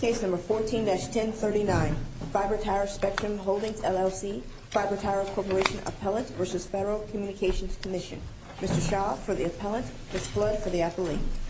Case No. 14-1039. FiberTower Spectrum Holdings, LLC. FiberTower Corporation Appellant v. Federal Communications Commission. Mr. Shaw, for the Appellant. Ms. Flood, for the Athlete. FiberTower Spectrum Holdings, LLC.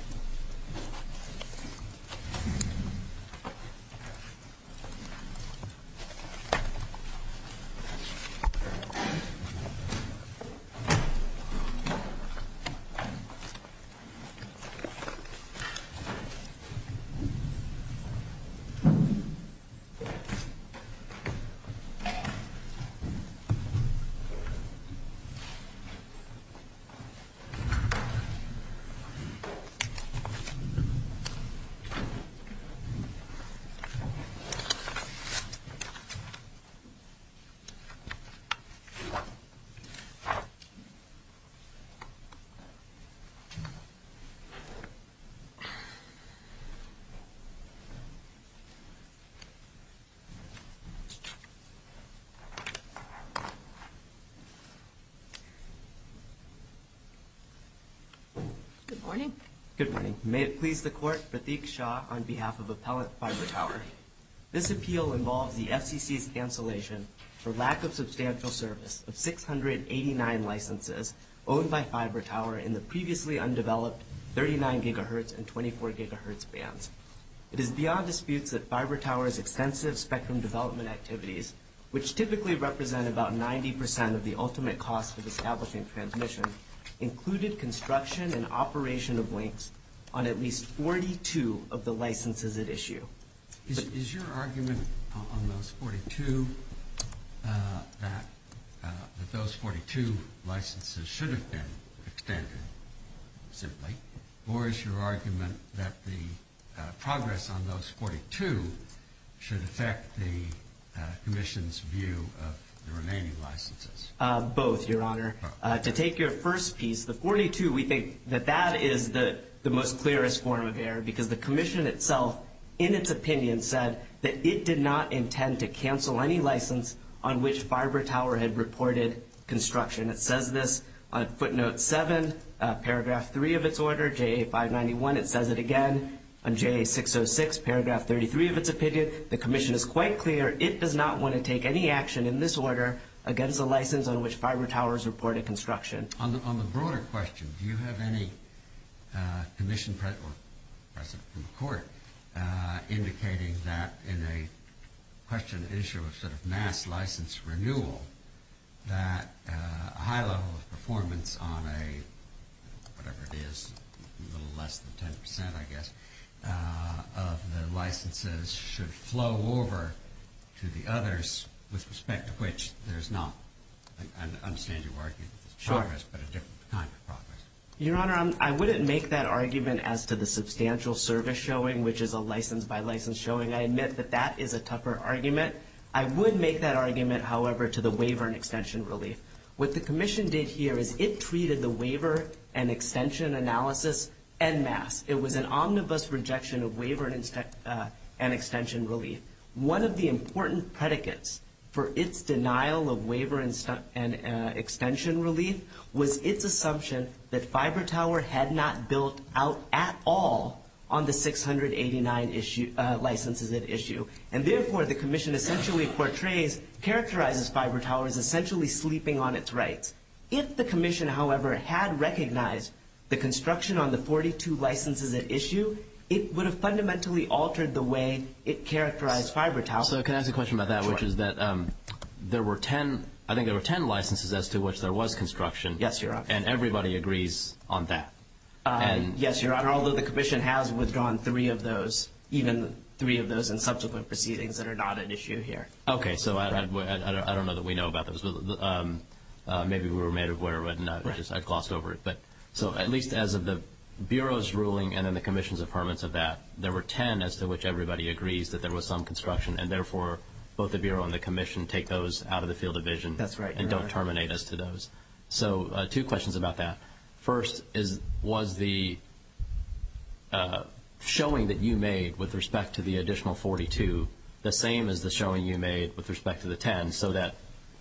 Good morning. Good morning. May it please the Court that I speak, Shaw, on behalf of Appellant FiberTower. This appeal involves the FCC's cancellation for lack of substantial service of 689 licenses owned by FiberTower in the previously undeveloped 39 GHz and 24 GHz bands. It is beyond dispute that FiberTower's extensive spectrum development activities, which typically represent about 90% of the ultimate cost of establishing transmission, included construction and operation of links on at least 42 of the licenses at issue. Is your argument on those 42 that those 42 licenses should have been extended, simply? Or is your argument that the progress on those 42 should affect the Commission's view of the remaining licenses? Both, Your Honor. To take your first piece, the 42, we think that that is the most clearest form of error because the Commission itself, in its opinion, said that it did not intend to cancel any license on which FiberTower had reported construction. It says this on footnote 7, paragraph 3 of its order, JA591. It says it again on JA606, paragraph 33 of its opinion. The Commission is quite clear it does not want to take any action in this order against the license on which FiberTower has reported construction. On the broader question, do you have any Commission press report indicating that in a question issue of sort of mass license renewal, that a high level of performance on a, whatever it is, a little less than 10%, I guess, of the licenses should flow over to the others with respect to which there is not an understanding of progress, but a different kind of progress? Your Honor, I wouldn't make that argument as to the substantial service showing, which is a license by license showing. I admit that that is a tougher argument. I would make that argument, however, to the waiver and extension relief. What the Commission did here is it treated the waiver and extension analysis en masse. It was an omnibus rejection of waiver and extension relief. One of the important predicates for its denial of waiver and extension relief was its assumption that FiberTower had not built out at all on the 689 licenses at issue. Therefore, the Commission essentially portrays, characterizes FiberTower as essentially sleeping on its rights. If the Commission, however, had recognized the construction on the 42 licenses at issue, it would have fundamentally altered the way it characterized FiberTower. Can I ask a question about that, which is that there were 10, I think there were 10 licenses as to which there was construction. Yes, Your Honor. Everybody agrees on that. Yes, Your Honor. Although the Commission has withdrawn three of those, even three of those in subsequent proceedings that are not at issue here. Okay. I don't know that we know about those. Maybe we were made aware of it and I glossed over it. At least as of the Bureau's ruling and then the Commission's affirmance of that, there were 10 as to which everybody agrees that there was some construction. Therefore, both the Bureau and the Commission take those out of the field of vision. That's right, Your Honor. Don't terminate us to those. Two questions about that. First, was the showing that you made with respect to the additional 42 the same as the showing you made with respect to the 10 so that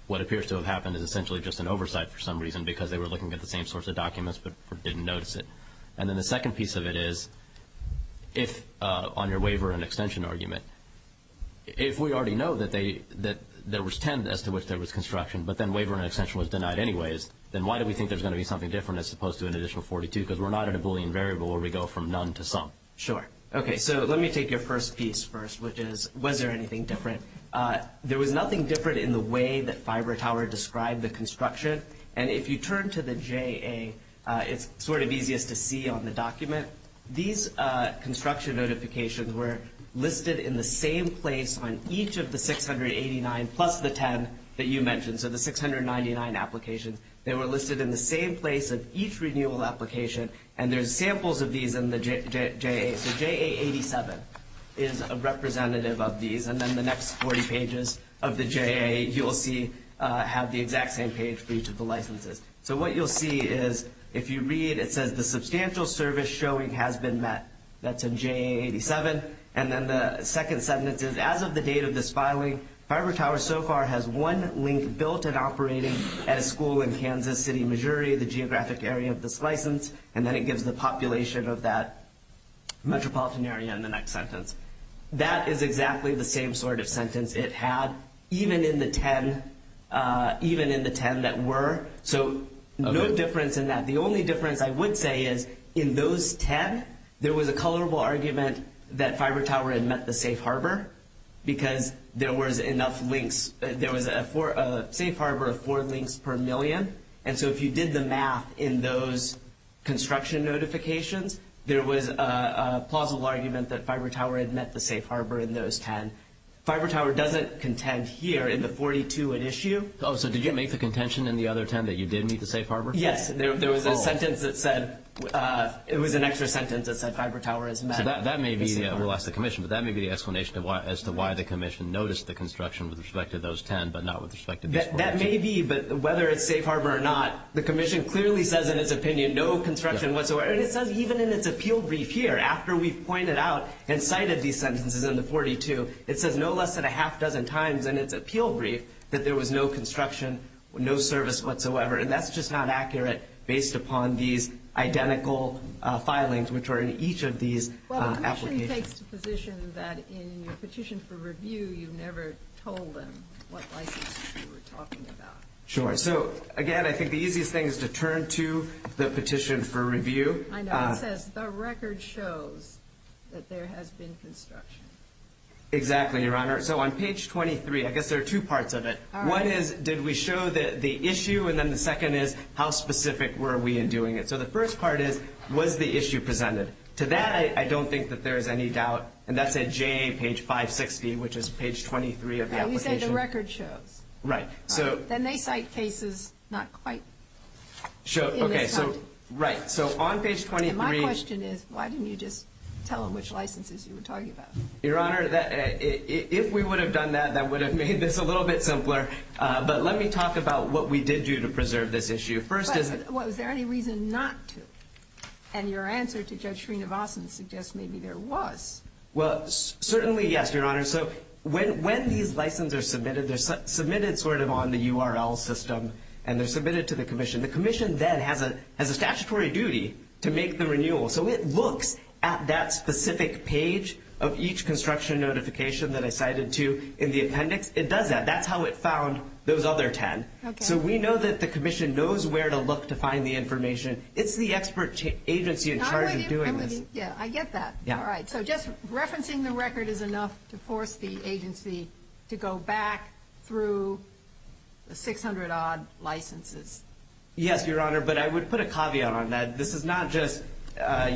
what appears to have happened is essentially just an oversight for some reason because they were looking at the same source of documents but didn't notice it? Then the second piece of it is if on your waiver and extension argument, if we already know that there was 10 as to which there was construction but then waiver and extension was denied anyways, then why do we think there's going to be something different as opposed to an additional 42 because we're not at a Boolean variable where we go from none to some? Sure. Okay. Let me take your first piece first, which is was there anything different? There was nothing different in the way that FiberTower described the construction. If you turn to the JA, it's sort of easiest to see on the document. These construction notifications were listed in the same place on each of the 689 plus the 10 that you mentioned, so the 699 applications. They were listed in the same place of each renewal application. There's samples of these in the JA. The JA87 is a representative of these. Then the next 40 pages of the JA, you'll see, have the exact same page for each of the licenses. What you'll see is if you read, it says the substantial service showing has been met. That's in JA87. Then the second sentence is as of the date of this filing, FiberTower so far has one link built and operating at a school in Kansas City, Missouri, the geographic area of this metropolitan area in the next sentence. That is exactly the same sort of sentence it had, even in the 10 that were. No difference in that. The only difference I would say is in those 10, there was a colorable argument that FiberTower had met the safe harbor because there was enough links. There was a safe harbor of four links per million. If you did the math in those construction notifications, there was a plausible argument that FiberTower had met the safe harbor in those 10. FiberTower doesn't contend here in the 42 at issue. Did you make the contention in the other 10 that you did meet the safe harbor? Yes. There was a sentence that said, it was an extra sentence that said FiberTower has met. That may be, we'll ask the commission, but that may be the explanation as to why the commission noticed the construction with respect to those 10, but not with respect to this one. That may be, but whether it's safe harbor or not, the commission clearly says in its opinion, no construction whatsoever. Even in its appeal brief here, after we pointed out and cited these sentences in the 42, it says no less than a half dozen times in its appeal brief that there was no construction, no service whatsoever. That's just not accurate based upon these identical filings which are in each of these applications. The commission takes the position that in your petition for review, you never told them what license you were talking about. Sure. Again, I think the easiest thing is to turn to the petition for review. I know. It says, the record shows that there has been construction. Exactly, Your Honor. On page 23, I guess there are two parts of it. One is, did we show the issue? Then the second is, how specific were we in doing it? The first part is, was the issue presented? To that, I don't think that there's any doubt. That's at JA page 560, which is page 23 of the application. You said the record shows. Right. Then they cite cases not quite in their time. Right. On page 23... My question is, why didn't you just tell them which licenses you were talking about? Your Honor, if we would have done that, that would have made this a little bit simpler. Let me talk about what we did do to preserve this issue. First is... Was there any reason not to? Your answer to Judge Srinivasan suggests maybe there was. Certainly, yes, Your Honor. When these licenses are submitted, they're submitted on the URL system. They're submitted to the commission. The commission then has a statutory duty to make the renewal. It looks at that specific page of each construction notification that I cited to in the appendix. It does that. That's how it found those other 10. We know that the commission knows where to look to find the information. It's the expert agency in charge of doing this. I get that. Just referencing the record is enough to force the agency to go back through the 600-odd licenses. Yes, Your Honor, but I would put a caveat on that. This is not just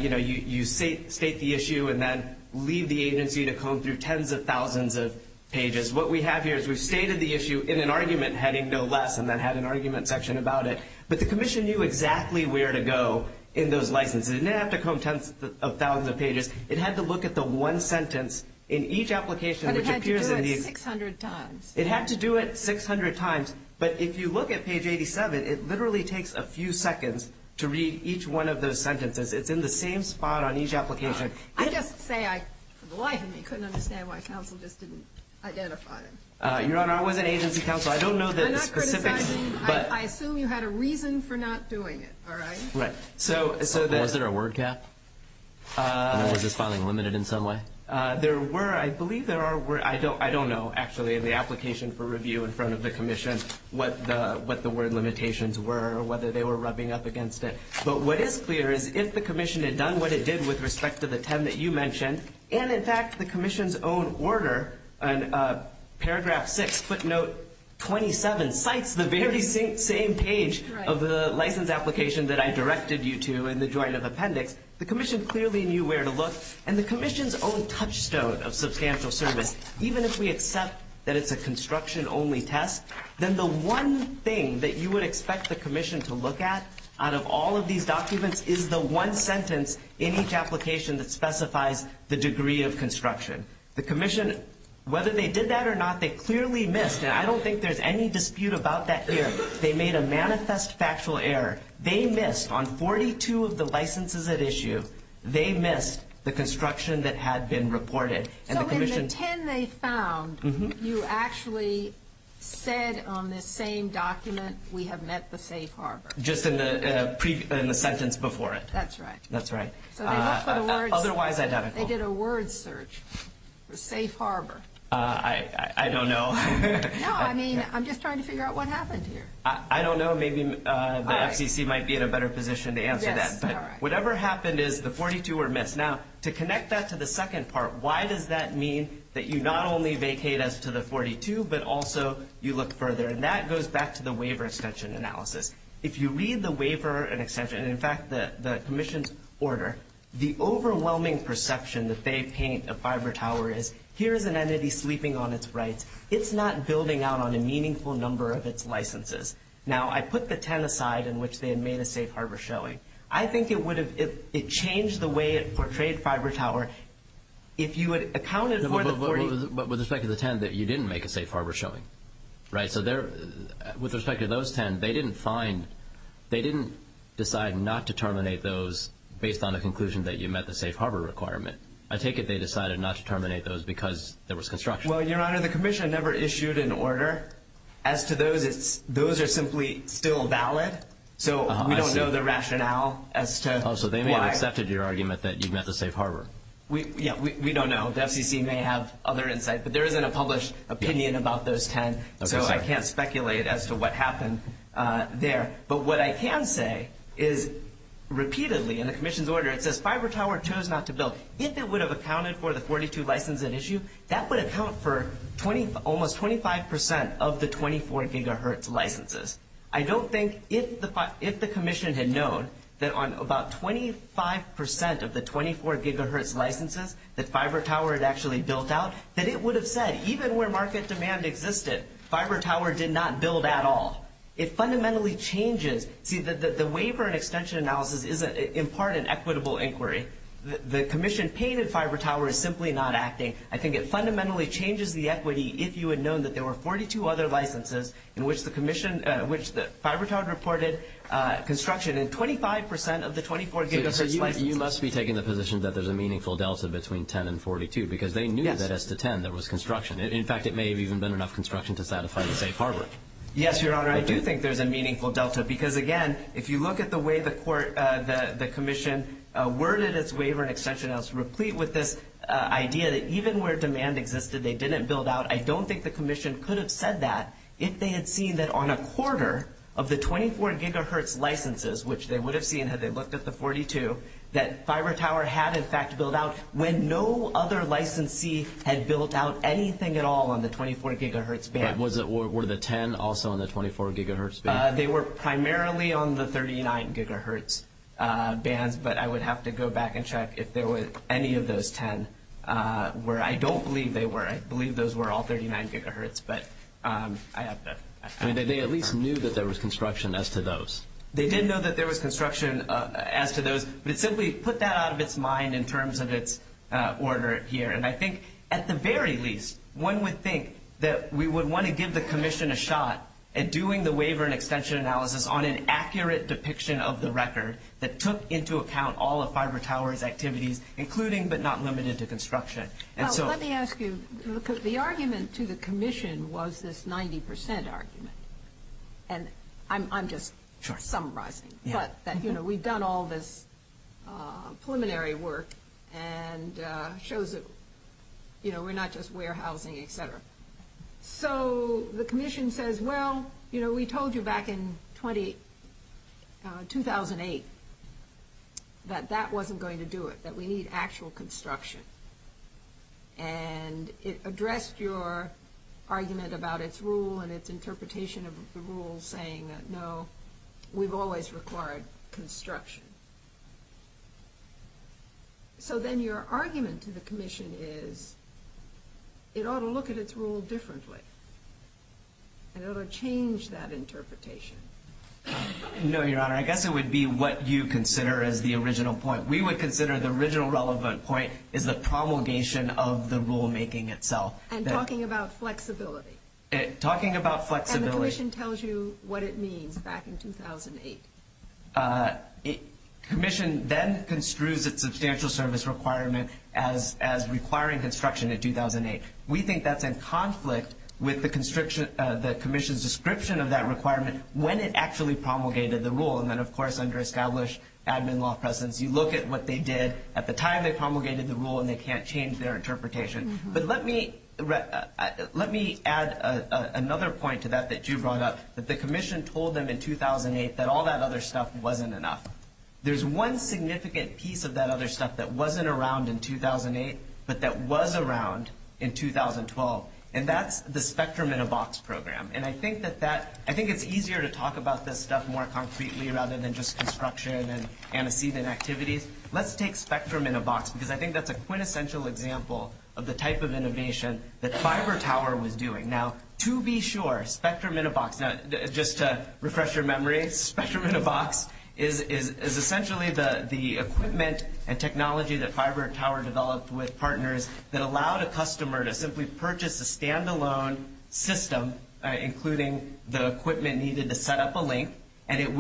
you state the issue and then leave the agency to comb through tens of thousands of pages. What we have here is we've stated the issue in an argument heading, no less, and then had an argument section about it. But the commission knew exactly where to go in those licenses. It didn't have to comb tens of thousands of pages. It had to look at the one sentence in each application. It had to do it 600 times. It had to do it 600 times. But if you look at page 87, it literally takes a few seconds to read each one of those sentences. It's in the same spot on each application. I just say, for the life of me, I couldn't understand why counsel just didn't identify it. Your Honor, I wasn't agency counsel. I don't know that the commission did. I assume you had a reason for not doing it, all right? Right. Was there a word cap? Or was it just filing limited in some way? There were. I believe there were. I don't know, actually, the application for review in front of the commission, what the word limitations were or whether they were rubbing up against it. But what is clear is if the commission had done what it did with respect to the 10 that you mentioned, and, in fact, the commission's own order, paragraph 6, footnote 27, cites the very same page of the license application that I directed you to in the Joint Appendix, the commission clearly knew where to look, and the commission's own touchstone of substantial service. Even if we accept that it's a construction-only test, then the one thing that you would expect the commission to look at out of all of these documents is the one sentence in each application that specifies the degree of construction. The commission, whether they did that or not, they clearly missed, and I don't think there's any dispute about that here, they made a manifest factual error. They missed. On 42 of the licenses at issue, they missed the construction that had been reported. So in the 10 they found, you actually said on this same document, we have met the safe harbor. Just in the sentence before it. That's right. That's right. Otherwise identical. They did a word search for safe harbor. I don't know. No, I mean, I'm just trying to figure out what happened here. I don't know. Maybe the FTC might be in a better position to answer that. Whatever happened is the 42 were missed. Now, to connect that to the second part, why does that mean that you not only vacate us to the 42, but also you look further, and that goes back to the waiver extension analysis. If you read the waiver and extension, in fact, the commission's order, the overwhelming perception that they paint a fiber tower is here's an entity sleeping on its rights. It's not building out on a meaningful number of its licenses. Now, I put the 10 aside in which they made a safe harbor showing. I think it would have changed the way it portrayed fiber tower if you had accounted for the 40. But with respect to the 10, you didn't make a safe harbor showing, right? So with respect to those 10, they didn't find, they didn't decide not to terminate those based on the conclusion that you met the safe harbor requirement. I take it they decided not to terminate those because there was construction. Well, Your Honor, the commission never issued an order. As to those, those are simply still valid. So we don't know the rationale as to why. So they may have accepted your argument that you've met the safe harbor. Yeah, we don't know. The FCC may have other insights, but there isn't a published opinion about those 10. So I can't speculate as to what happened there. But what I can say is repeatedly in the commission's order it says fiber tower chose not to build. If it would have accounted for the 42 license at issue, that would account for almost 25% of the 24 gigahertz licenses. I don't think if the commission had known that on about 25% of the 24 gigahertz licenses, that fiber tower had actually built out, that it would have said, even where market demand existed, fiber tower did not build at all. It fundamentally changes. The waiver and extension analysis is, in part, an equitable inquiry. The commission painted fiber tower as simply not acting. I think it fundamentally changes the equity if you had known that there were 42 other licenses in which the fiber tower reported construction in 25% of the 24 gigahertz license. You must be taking the position that there's a meaningful delta between 10 and 42 because they knew that as to 10 there was construction. In fact, it may have even been enough construction to satisfy the safe harbor. Yes, Your Honor, I do think there's a meaningful delta because, again, if you look at the way the commission worded its waiver and extension analysis replete with this idea that even where demand existed they didn't build out, I don't think the commission could have said that if they had seen that on a quarter of the 24 gigahertz licenses, which they would have seen had they looked at the 42, that fiber tower had, in fact, built out when no other licensee had built out anything at all on the 24 gigahertz band. Were the 10 also on the 24 gigahertz band? They were primarily on the 39 gigahertz band, but I would have to go back and check if there was any of those 10 where I don't believe they were. I believe those were all 39 gigahertz. They at least knew that there was construction as to those. They didn't know that there was construction as to those. We simply put that out of its mind in terms of its order here, and I think at the very least one would think that we would want to give the commission a shot at doing the waiver and extension analysis on an accurate depiction of the record that took into account all of fiber tower's activities, including but not limited to construction. Let me ask you, because the argument to the commission was this 90% argument, and I'm just summarizing, but we've done all this preliminary work and it shows that we're not just warehousing, et cetera. So the commission says, well, we told you back in 2008 that that wasn't going to do it, that we need actual construction, and it addressed your argument about its rule and its interpretation of the rule saying, no, we've always required construction. So then your argument to the commission is it ought to look at its rule differently and it ought to change that interpretation. No, Your Honor. I guess it would be what you consider as the original point. We would consider the original relevant point is the promulgation of the rulemaking itself. And talking about flexibility. Talking about flexibility. And the commission tells you what it means back in 2008. The commission then construes its substantial service requirement as requiring construction in 2008. We think that's in conflict with the commission's description of that requirement when it actually promulgated the rule, and then, of course, under established admin law presence. You look at what they did at the time they promulgated the rule, and they can't change their interpretation. But let me add another point to that that you brought up. The commission told them in 2008 that all that other stuff wasn't enough. There's one significant piece of that other stuff that wasn't around in 2008, but that was around in 2012, and that's the spectrum in a box program. I think it's easier to talk about this stuff more concretely rather than just construction and activities. Let's take spectrum in a box because I think that's a quintessential example of the type of innovation that FiberTower was doing. Now, to be sure, spectrum in a box, just to refresh your memory, spectrum in a box is essentially the equipment and technology that FiberTower developed with partners that allowed a customer to simply purchase a standalone system including the equipment needed to set up a link, and it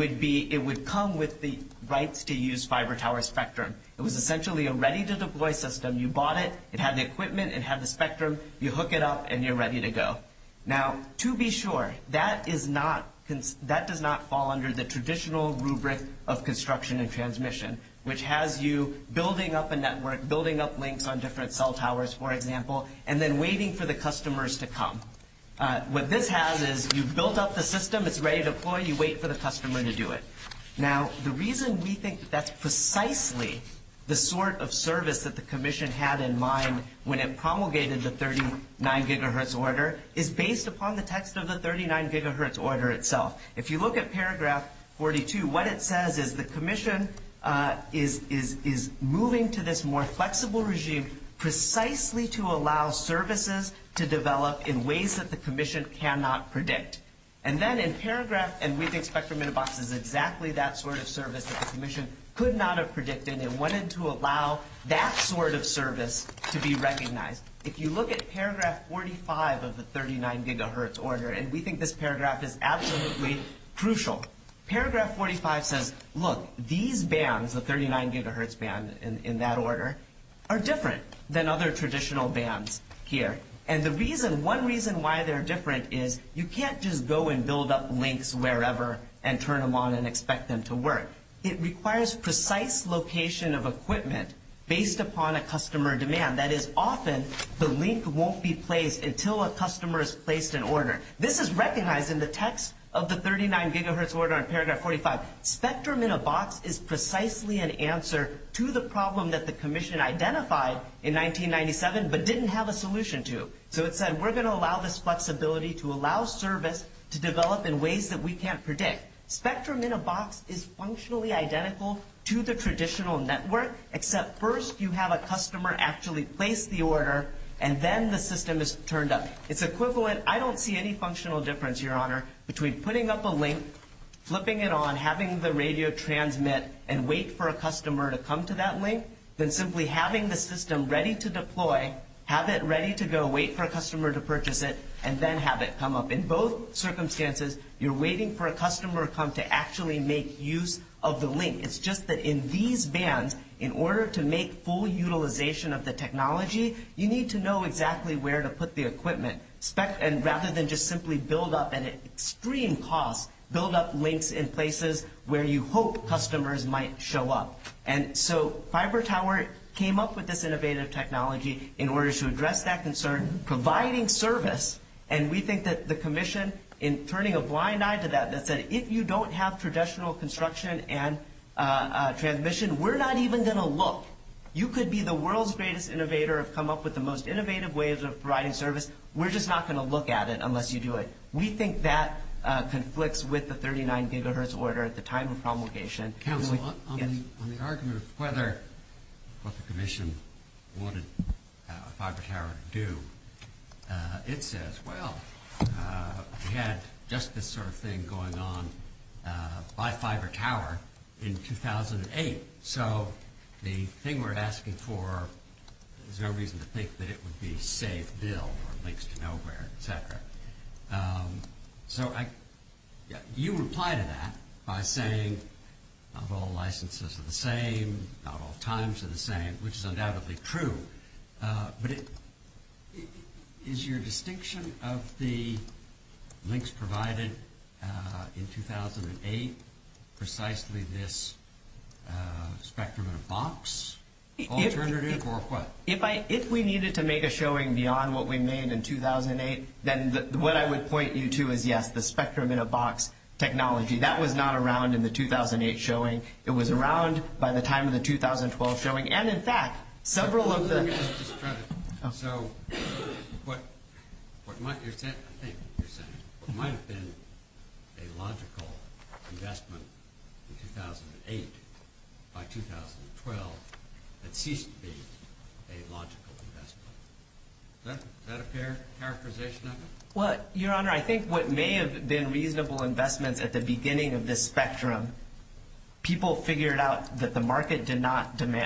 would come with the rights to use FiberTower spectrum. It was essentially a ready-to-deploy system. You bought it. It had the equipment. It had the spectrum. You hook it up, and you're ready to go. Now, to be sure, that does not fall under the traditional rubric of construction and transmission, which has you building up a network, building up links on different cell towers, for example, and then waiting for the customers to come. What this has is you build up the system. It's ready to deploy. You wait for the customer to do it. Now, the reason we think that that's precisely the sort of service that the commission had in mind when it promulgated the 39 gigahertz order is based upon the text of the 39 gigahertz order itself. If you look at paragraph 42, what it says is the commission is moving to this more flexible regime precisely to allow services to develop in ways that the commission cannot predict. And then in paragraph, and we think spectrum in a box is exactly that sort of service that the commission could not have predicted and wanted to allow that sort of service to be recognized. If you look at paragraph 45 of the 39 gigahertz order, and we think this paragraph is absolutely crucial, paragraph 45 says, look, these bands, the 39 gigahertz band in that order, are different than other traditional bands here. And the reason, one reason why they're different is you can't just go and build up links wherever and turn them on and expect them to work. It requires precise location of equipment based upon a customer demand. That is, often the link won't be placed until a customer has placed an order. This is recognized in the text of the 39 gigahertz order in paragraph 45. Spectrum in a box is precisely an answer to the problem that the commission identified in 1997 but didn't have a solution to. So it said we're going to allow this flexibility to allow service to develop in ways that we can't predict. Spectrum in a box is functionally identical to the traditional network, except first you have a customer actually place the order, and then the system is turned on. It's equivalent, I don't see any functional difference, Your Honor, between putting up a link, flipping it on, having the radio transmit, and wait for a customer to come to that link than simply having the system ready to deploy, have it ready to go, wait for a customer to purchase it, and then have it come up. In both circumstances, you're waiting for a customer to come to actually make use of the link. It's just that in these bands, in order to make full utilization of the technology, you need to know exactly where to put the equipment. And rather than just simply build up an extreme cost, build up links in places where you hope customers might show up. And so Fiber Tower came up with this innovative technology in order to address that concern, providing service. And we think that the commission, in turning a blind eye to that, that if you don't have traditional construction and transmission, we're not even going to look. You could be the world's greatest innovator and come up with the most innovative ways of providing service. We're just not going to look at it unless you do it. We think that conflicts with the 39 gigahertz order at the time of promulgation. On the argument of whether the commission wanted Fiber Tower to do, it says, well, we had just this sort of thing going on by Fiber Tower in 2008. So the thing we're asking for, there's no reason to think that it would be a safe bill or links to nowhere, et cetera. So you reply to that by saying, of all licenses are the same, of all times are the same, which is undoubtedly true, but is your distinction of the links provided in 2008 precisely this spectrum in a box alternative or what? If we needed to make a showing beyond what we made in 2008, then what I would point you to is, yes, the spectrum in a box technology. That was not around in the 2008 showing. It was around by the time of the 2012 showing. So what might have been, I think, a logical investment in 2008 by 2012 that ceased to be a logical investment. Is that a fair characterization of it? Your Honor, I think what may have been reasonable investment at the beginning of this spectrum, people figured out that the market demand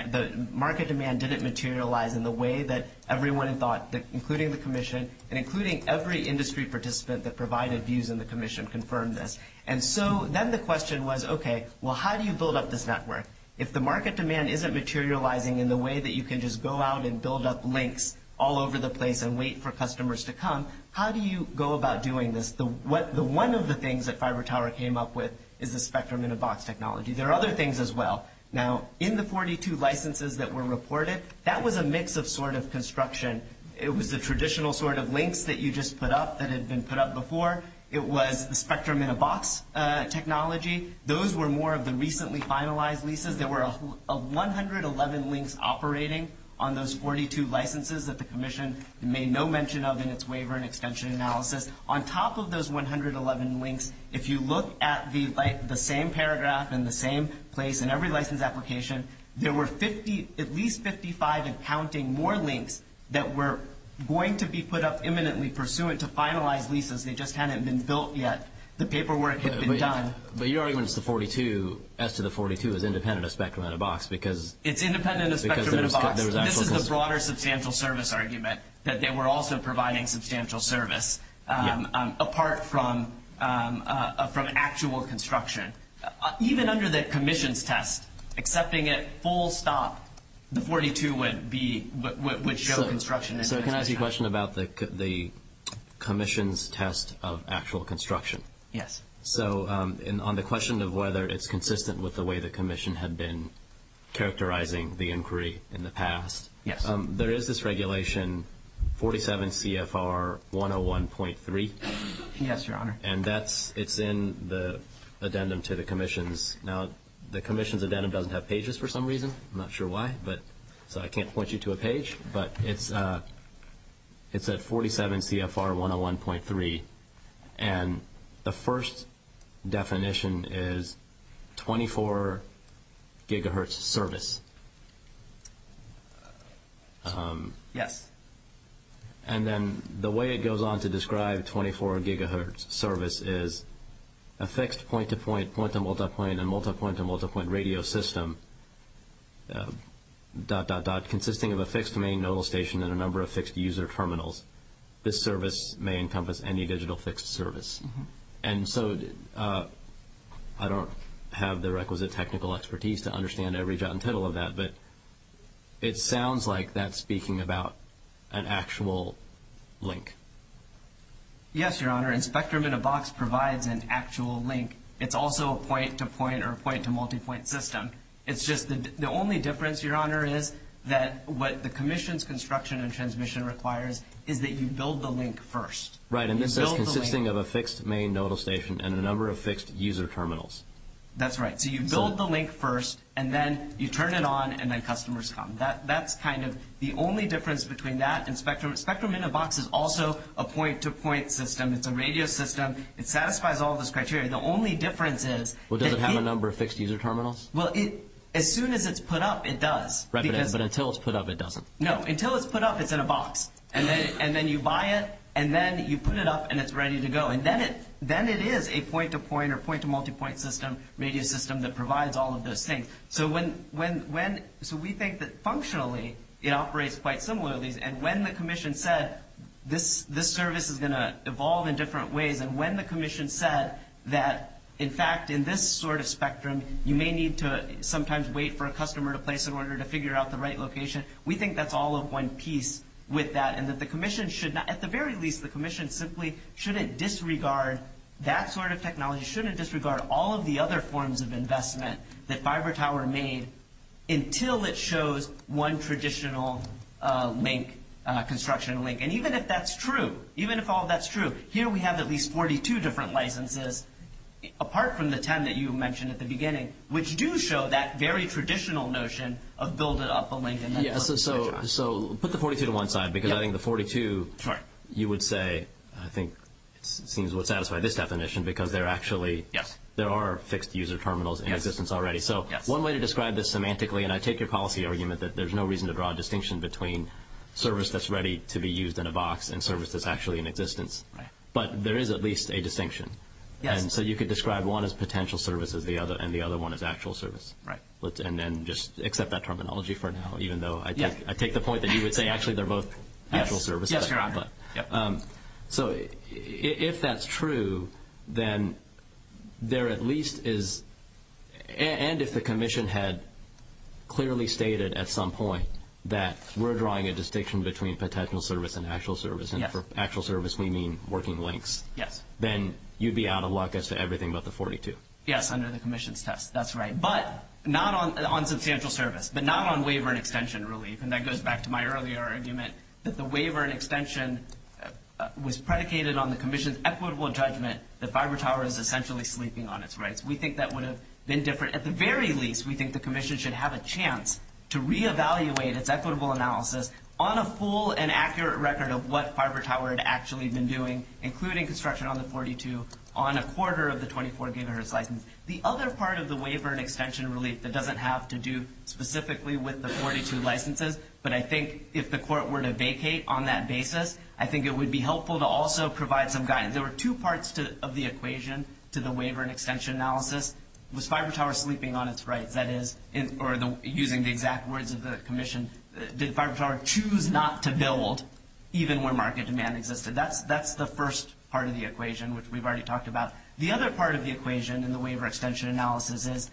didn't materialize in the way that everyone thought, including the commission and including every industry participant that provided views in the commission, confirmed this. And so then the question was, okay, well how do you build up this network? If the market demand isn't materializing in the way that you can just go out and build up links all over the place and wait for customers to come, how do you go about doing this? So one of the things that Fiber Tower came up with is a spectrum in a box technology. There are other things as well. Now in the 42 licenses that were reported, that was a mix of sort of construction. It was the traditional sort of links that you just put up that had been put up before. It was the spectrum in a box technology. Those were more of the recently finalized leases. There were 111 links operating on those 42 licenses that the commission made no mention of in its waiver and extension analysis. On top of those 111 links, if you look at the same paragraph and the same place in every license application, there were at least 55 and counting more links that were going to be put up imminently pursuant to finalized leases. They just hadn't been built yet. The paperwork had been done. But your argument is the 42, S to the 42, is independent of spectrum in a box because It's independent of spectrum in a box. This is a broader substantial service argument that they were also providing substantial service apart from actual construction. Even under the commission's test, accepting it full stop, the 42 would show construction. Can I ask you a question about the commission's test of actual construction? Yes. On the question of whether it's consistent with the way the commission had been characterizing the inquiry in the past, there is this regulation, 47 CFR 101.3. Yes, Your Honor. It's in the addendum to the commission's. Now, the commission's addendum doesn't have pages for some reason. I'm not sure why, so I can't point you to a page. It's at 47 CFR 101.3. The first definition is 24 gigahertz service. Yes. Then the way it goes on to describe 24 gigahertz service is a fixed point-to-point, point-to-multipoint, and multipoint-to-multipoint radio system dot, dot, dot, consisting of a fixed main nodal station and a number of fixed user terminals. This service may encompass any digital fixed service. And so I don't have the requisite technical expertise to understand every jot and tittle of that, but it sounds like that's speaking about an actual link. Yes, Your Honor. And Spectrum in a Box provides an actual link. It's also a point-to-point or a point-to-multipoint system. The only difference, Your Honor, is that what the commission's construction and transmission requires is that you build the link first. Right, and this is consisting of a fixed main nodal station and a number of fixed user terminals. That's right. So you build the link first, and then you turn it on, and then customers come. That's kind of the only difference between that and Spectrum. Spectrum in a Box is also a point-to-point system. It's a radio system. It satisfies all those criteria. Well, does it have a number of fixed user terminals? Well, as soon as it's put up, it does. Right, but until it's put up, it doesn't. No, until it's put up, it's in a box. And then you buy it, and then you put it up, and it's ready to go. And then it is a point-to-point or point-to-multipoint system, radio system that provides all of those things. So we think that functionally it operates quite similarly, and when the commission said this service is going to evolve in different ways and when the commission said that, in fact, in this sort of Spectrum, you may need to sometimes wait for a customer to place in order to figure out the right location, we think that's all of one piece with that, and that the commission should not, at the very least, the commission simply shouldn't disregard that sort of technology, shouldn't disregard all of the other forms of investment that FiberTower made until it shows one traditional link, construction link. And even if that's true, even if all that's true, here we have at least 42 different licenses, apart from the 10 that you mentioned at the beginning, which do show that very traditional notion of build up a link. So put the 42 to one side, because I think the 42, you would say, I think seems to satisfy this definition, because there are fixed user terminals in existence already. So one way to describe this semantically, between service that's ready to be used in a box and service that's actually in existence, but there is at least a distinction. And so you could describe one as potential service and the other one as actual service, and then just accept that terminology for now, even though I take the point that you would say actually they're both actual services. So if that's true, then there at least is, and if the commission had clearly stated at some point that we're drawing a distinction between potential service and actual service, and for actual service, we mean working links, then you'd be out of luck as to everything but the 42. Yes, under the commission's test. That's right. But not on substantial service, but not on waiver and extension relief, and that goes back to my earlier argument that the waiver and extension was predicated on the commission's equitable judgment that fiber tower is essentially sleeping on its rights. We think that would have been different. At the very least, we think the commission should have a chance to reevaluate its equitable analysis on a full and accurate record of what fiber tower had actually been doing, including construction on the 42, on a quarter of the 24-gigahertz license. The other part of the waiver and extension relief that doesn't have to do specifically with the 42 licenses, but I think if the court were to vacate on that basis, I think it would be helpful to also provide some guidance. There were two parts of the equation to the waiver and extension analysis. One is, was fiber tower sleeping on its rights? That is, using the exact words of the commission, did fiber tower choose not to build even when market demand existed? That's the first part of the equation, which we've already talked about. The other part of the equation in the waiver and extension analysis is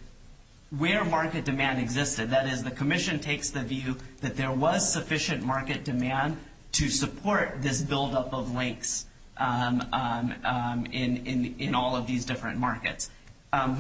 where market demand existed. That is, the commission takes the view that there was sufficient market demand to support this buildup of ranks in all of these different markets.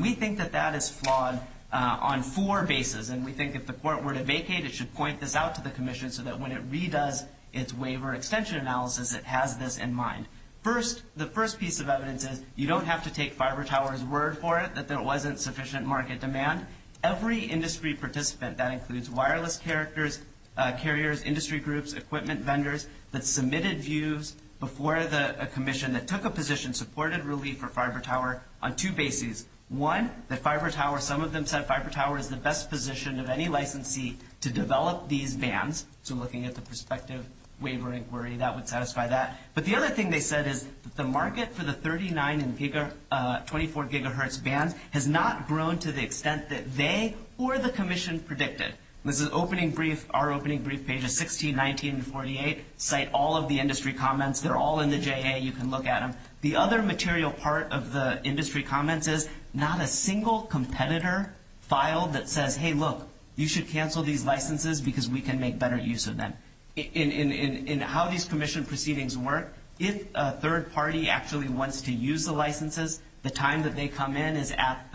We think that that is flawed on four bases, and we think if the court were to vacate, it should point this out to the commission so that when it redoes its waiver and extension analysis, it has this in mind. First, the first piece of evidence is, you don't have to take fiber tower's word for it that there wasn't sufficient market demand. Every industry participant, that includes wireless carriers, industry groups, equipment vendors, that submitted views before the commission that took a position supporting relief for fiber tower on two bases. One, that fiber tower, some of them said fiber tower is the best position of any licensee to develop these bands. So looking at the perspective, waiver inquiry, that would satisfy that. But the other thing they said is, the market for the 39 and 24 gigahertz bands has not grown to the extent that they or the commission predicted. This is opening brief, our opening brief, pages 16, 19, and 48, cite all of the industry comments. They're all in the JA, you can look at them. The other material part of the industry comments is, not a single competitor filed that says, hey, look, you should cancel these licenses because we can make better use of them. In how these commission proceedings work, if a third party actually wants to use the licenses, the time that they come in is at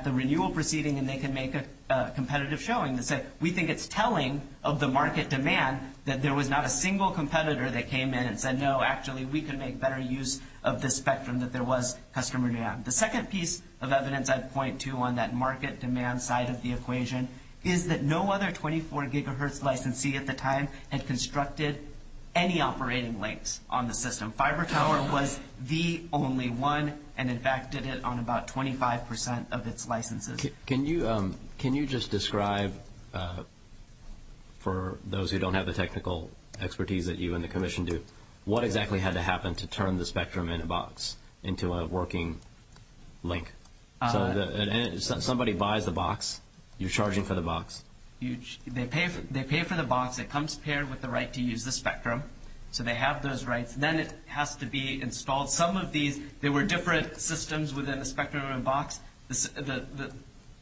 the renewal proceeding and they can make a competitive showing. It's like, we think it's telling of the market demand that there was not a single competitor that came in and said, no, actually, we can make better use of the spectrum that there was customer demand. The second piece of evidence I'd point to on that market demand side of the equation is that no other 24 gigahertz licensee at the time had constructed any operating links on the system. Fiber Tower was the only one, and in fact did it on about 25% of its licenses. Can you just describe, for those who don't have the technical expertise that you and the commission do, what exactly had to happen to turn the spectrum in a box into a working link? Somebody buys the box. You're charging for the box. They pay for the box. It comes paired with the right to use the spectrum, so they have those rights. Then it has to be installed. There were different systems within the spectrum and box.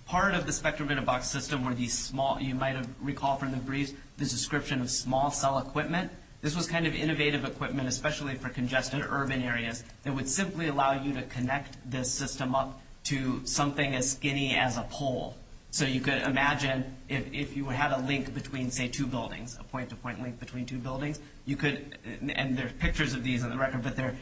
Part of the spectrum in a box system were these small, you might have recalled from the brief, the description of small cell equipment. This was kind of innovative equipment, especially for congested urban areas. It would simply allow you to connect the system up to something as skinny as a pole, so you could imagine if you had a link between, say, two buildings, a point-to-point link between two buildings, and there's pictures of these on the record, but they're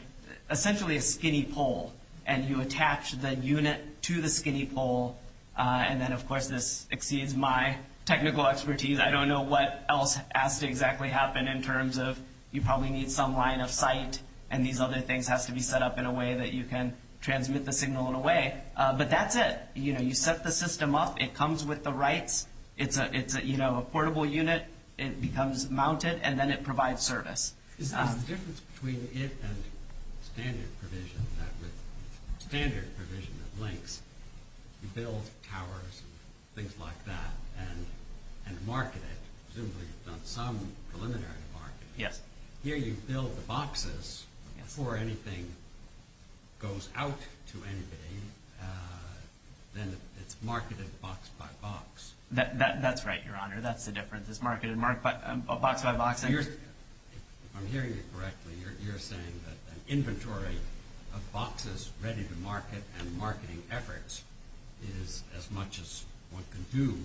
essentially a skinny pole, and you attach the unit to the skinny pole, and then, of course, this exceeds my technical expertise. I don't know what else has to exactly happen in terms of you probably need some line of sight, and these other things have to be set up in a way that you can transmit the signal in a way, but that's it. You set the system up. It comes with the rights. It's a portable unit. It becomes mounted, and then it provides service. The difference between it and standard provision is that with standard provision of links, you build towers, things like that, and market it. Presumably, you've done some preliminary marketing. Here, you build boxes. Before anything goes out to anybody, then it's marketed box by box. That's right, Your Honor. That's the difference. It's marketed box by box. If I'm hearing you correctly, you're saying that an inventory of boxes ready to market and marketing efforts is as much as one can do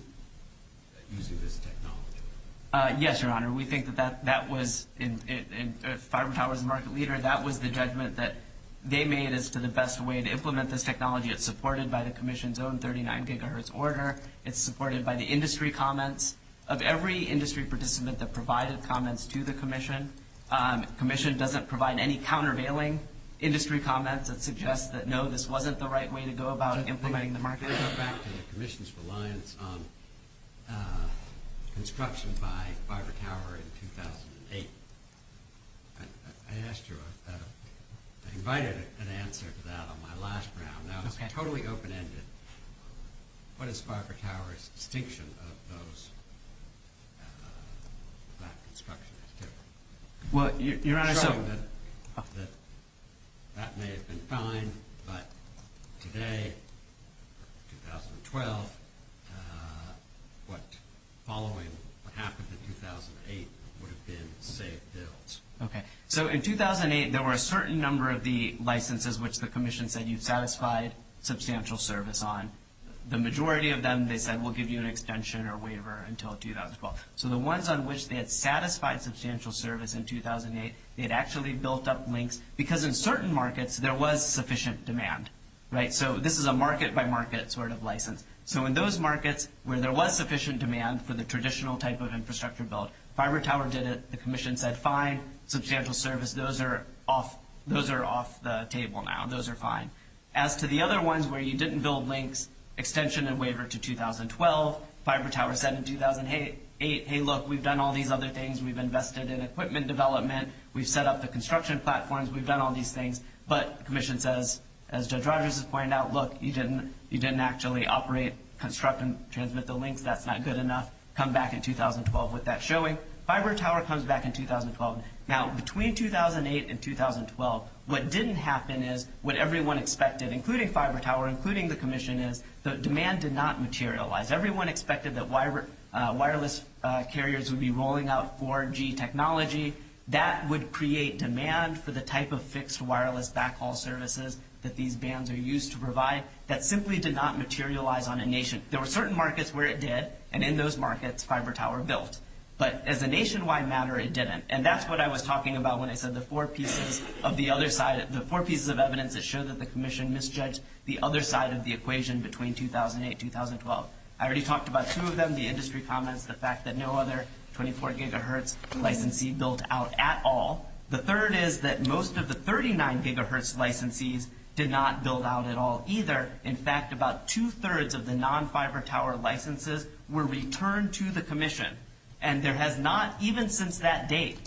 using this technology. Yes, Your Honor. We think that that was... If Farm Tower was a market leader, that was the judgment that they made as to the best way to implement this technology. It's supported by the Commission's own 39 gigahertz order. It's supported by the industry comments. Of every industry participant that provided comments to the Commission, the Commission doesn't provide any countervailing industry comments that suggest that, no, this wasn't the right way to go about implementing the market. Let me go back to the Commission's reliance on construction by Farber Tower in 2008. I asked you about that. I invited an answer to that on my last round. That was totally open-ended. What is Farber Tower's distinction of those construction... Your Honor, so... That may have been fine, but today, 2012, what happened in 2008 would have been saved bills. Okay, so in 2008, there were a certain number of the licenses which the Commission said you satisfied substantial service on. The majority of them, they said, we'll give you an extension or waiver until 2012. So the ones on which they had satisfied substantial service in 2008, they had actually built up links because in certain markets, there was sufficient demand, right? So this is a market-by-market sort of license. So in those markets where there was sufficient demand for the traditional type of infrastructure bill, Farber Tower did it. The Commission said, fine, substantial service. Those are off the table now. Those are fine. As to the other ones where you didn't build links, extension and waiver to 2012, Farber Tower said in 2008, hey, look, we've done all these other things. We've invested in equipment development. We've set up the construction platforms. We've done all these things. But the Commission says, as Judge Rogers has pointed out, look, you didn't actually operate, construct and transmit the links. That's not good enough. Come back in 2012 with that showing. Farber Tower comes back in 2012. Now, between 2008 and 2012, what didn't happen is what everyone expected, including Farber Tower, including the Commission, is the demand did not materialize. Everyone expected that wireless carriers would be rolling out 4G technology. That would create demand for the type of fixed wireless backhaul services that these bands are used to provide. That simply did not materialize on a nation. There were certain markets where it did, and in those markets, Farber Tower built. But as a nationwide matter, it didn't. And that's what I was talking about when I said the four pieces of evidence that shows that the Commission misjudged the other side of the equation between 2008 and 2012. I already talked about two of them, the industry comments, the fact that no other 24-gigahertz licensee built out at all. The third is that most of the 39-gigahertz licensees did not build out at all either. In fact, about two-thirds of the non-Farber Tower licenses were returned to the Commission. And there has not, even since that date,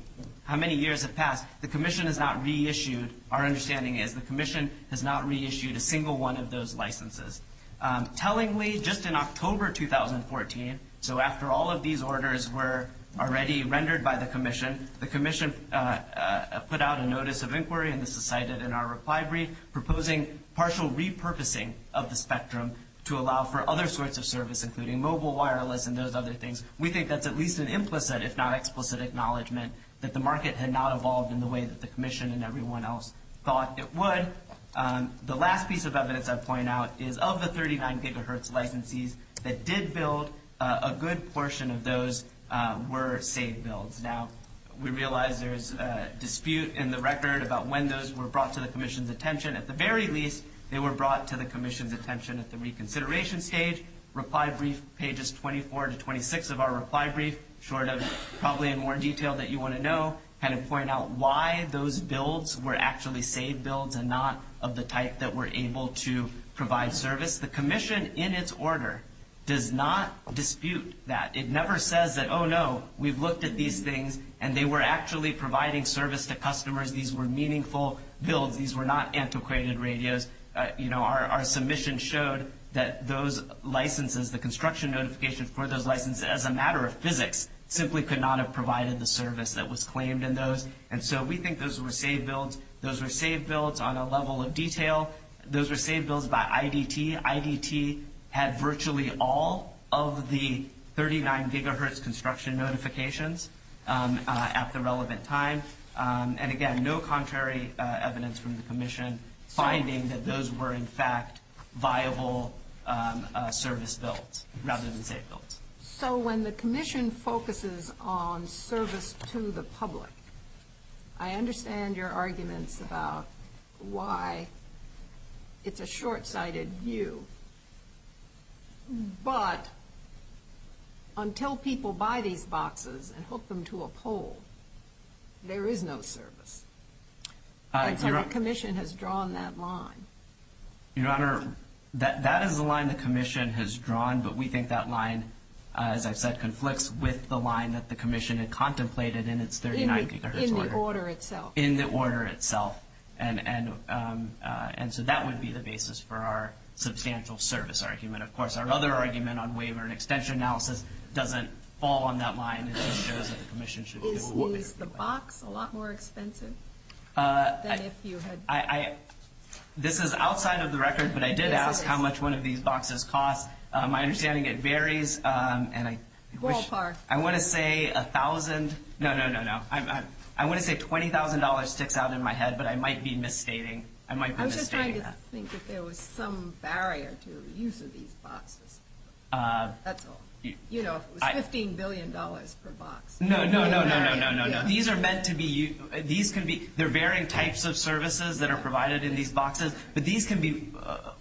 how many years have passed, the Commission has not reissued, our understanding is, the Commission has not reissued a single one of those licenses. Tellingly, just in October 2014, so after all of these orders were already rendered by the Commission, the Commission put out a notice of inquiry, and this was cited in our reply brief, proposing partial repurposing of the spectrum to allow for other sorts of services, including mobile, wireless, and those other things. We think that's at least an implicit, if not explicit, acknowledgment that the market had not evolved in the way that the Commission and everyone else thought it would. The last piece of evidence I'll point out is, of the 39-gigahertz licensees that did build, a good portion of those were saved bills. Now, we realize there's a dispute in the record about when those were brought to the Commission's attention. At the very least, they were brought to the Commission's attention at the reconsideration stage. Reply brief pages 24 to 26 of our reply brief, short of probably in more detail that you want to know, kind of point out why those builds were actually saved bills and not of the type that were able to provide service. The Commission, in its order, does not dispute that. It never says that, oh, no, we've looked at these things, and they were actually providing service to customers. These were meaningful builds. These were not antiquated radios. You know, our submission showed that those licenses, the construction notification for those licenses, as a matter of physics, simply could not have provided the service that was claimed in those, and so we think those were saved bills. Those were saved bills on a level of detail. Those were saved bills by IDT. IDT had virtually all of the 39-gigahertz construction notifications at the relevant time, finding that those were, in fact, viable service builds rather than saved builds. So when the Commission focuses on service to the public, I understand your argument about why it's a short-sighted view, but until people buy these boxes and hook them to a pole, there is no service. The Commission has drawn that line. Your Honor, that is the line the Commission has drawn, but we think that line, as I said, conflicts with the line that the Commission had contemplated in its 39-gigahertz order. In the order itself. In the order itself, and so that would be the basis for our substantial service argument. Of course, our other argument on waiver and extension analysis doesn't fall on that line. Is the box a lot more expensive? This is outside of the records, but I did ask how much one of these boxes cost. My understanding, it varies. I want to say $1,000. No, no, no, no. I want to say $20,000 sticks out in my head, but I might be misstating. I was just trying to think if there was some barrier to the use of these boxes. That's all. You know, $15 billion per box. No, no, no, no, no. These are meant to be used. There are varying types of services that are provided in these boxes, but these can be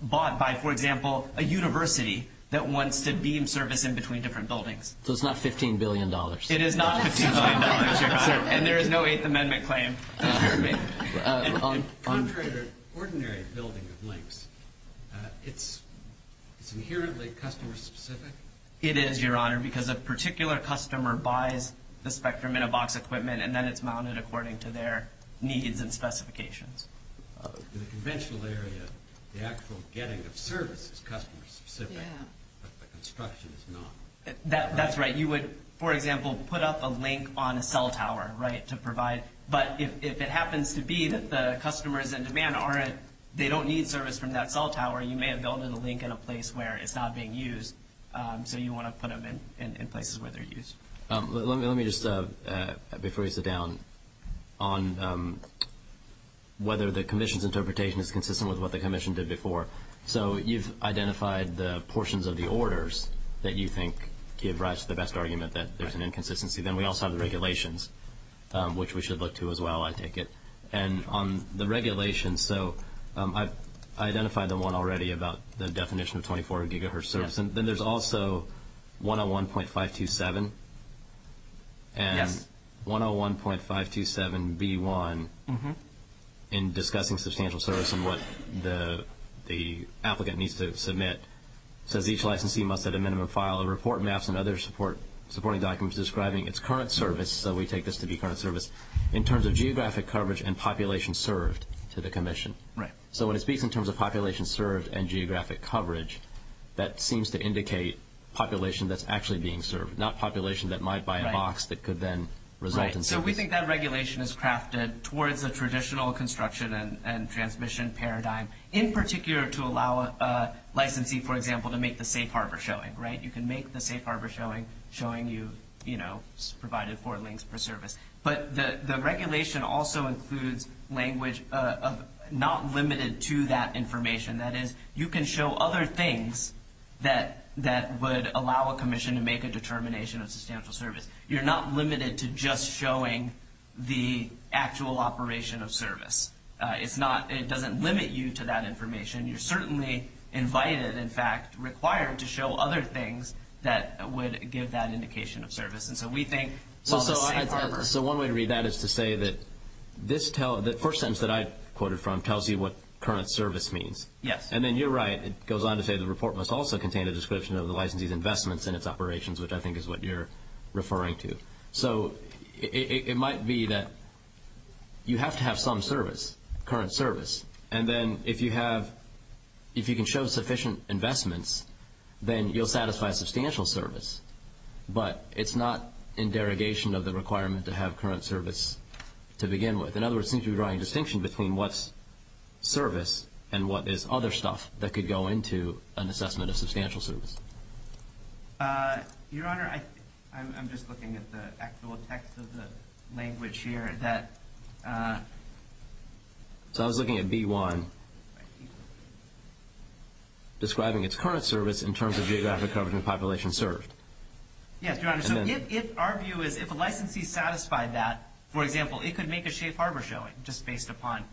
bought by, for example, a university that wants to beam service in between different buildings. So it's not $15 billion. It is not $15 billion, Your Honor, and there is no Eighth Amendment claim. Your Honor, an ordinary building with links, it's inherently customer-specific? It is, Your Honor, because a particular customer buys the Spectrum in a box equipment and then it's mounted according to their needs and specifications. In a conventional area, the actual getting of service is customer-specific, but the construction is not. That's right. You would, for example, put up a link on a cell tower to provide, but if it happens to be that the customers in demand aren't, they don't need service from that cell tower, you may have built in a link in a place where it's not being used, so you want to put them in places where they're used. Let me just, before we sit down, on whether the Commission's interpretation is consistent with what the Commission did before. So you've identified the portions of the orders that you think give rise to the best argument that there's an inconsistency. Then we also have the regulations, which we should look to as well, I take it. And on the regulations, so I identified the one already about the definition of 24 gigahertz service, and then there's also 101.527. And 101.527B1, in discussing substantial service and what the applicant needs to submit, says each licensee must have a minimum file of report maps and other supporting documents describing its current service, so we take this to be current service, in terms of geographic coverage and population served to the Commission. Right. So when I speak in terms of population served and geographic coverage, that seems to indicate population that's actually being served, not population that might buy a box that could then result in service. So we think that regulation is crafted towards the traditional construction and transmission paradigm, in particular to allow a licensee, for example, to make the safe harbor showing, right? You can make the safe harbor showing, showing you, you know, provided four links per service. But the regulation also includes language not limited to that information. That is, you can show other things that would allow a Commission to make a determination of substantial service. You're not limited to just showing the actual operation of service. If not, it doesn't limit you to that information. You're certainly invited, in fact, required to show other things that would give that indication of service. And so we think... So one way to read that is to say that the first sentence that I quoted from tells you what current service means. Yes. And then you're right. It goes on to say the report must also contain a description of the licensee's investments in its operations, which I think is what you're referring to. So it might be that you have to have some service, current service. And then if you have – if you can show sufficient investments, then you'll satisfy substantial service. But it's not in derogation of the requirement to have current service to begin with. In other words, it seems to be drawing a distinction between what's service and what is other stuff that could go into an assessment of substantial service. Your Honor, I'm just looking at the actual text of the language here. So I was looking at B1, describing its current service in terms of geographic coverage and population served. Yes, Your Honor. So if our view is if a licensee satisfied that, for example, it could make a safe harbor showing just based upon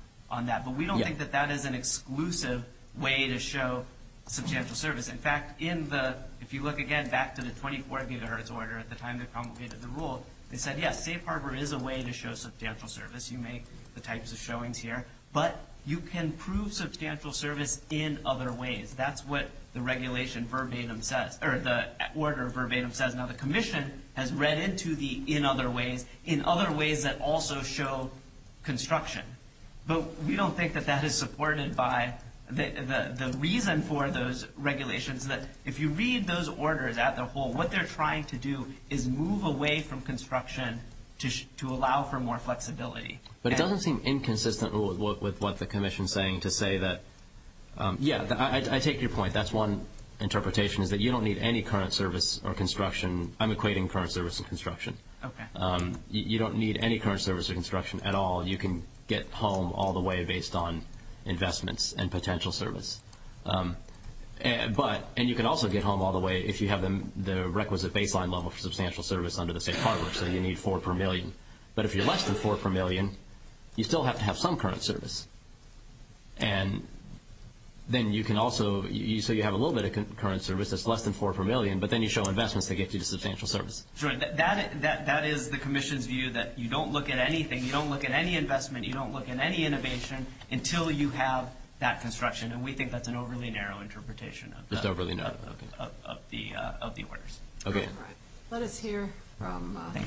that. But we don't think that that is an exclusive way to show substantial service. In fact, if you look again back to the 24th universe order at the time they promulgated the rule, they said, yes, safe harbor is a way to show substantial service. You make the types of showings here. But you can prove substantial service in other ways. That's what the regulation verbatim says – or the order verbatim says. Now the commission has read into the in other ways in other ways that also show construction. But we don't think that that is supported by – the reason for those regulations is that if you read those orders as a whole, what they're trying to do is move away from construction to allow for more flexibility. But it doesn't seem inconsistent with what the commission is saying to say that – yes, I take your point. That's one interpretation is that you don't need any current service or construction. I'm equating current service and construction. Okay. You don't need any current service or construction at all. You can get home all the way based on investments and potential service. But – and you can also get home all the way if you have the requisite baseline level for substantial service under the safe harbor. So you need four per million. But if you're less than four per million, you still have to have some current service. And then you can also – so you have a little bit of current service that's less than four per million, but then you show investments to get you to substantial service. Sure. That is the commission's view that you don't look at anything. You don't look at any investment. You don't look at any innovation until you have that construction. And we think that's an overly narrow interpretation. It's overly narrow. Okay. Of the orders. Okay. All right. Let us hear from the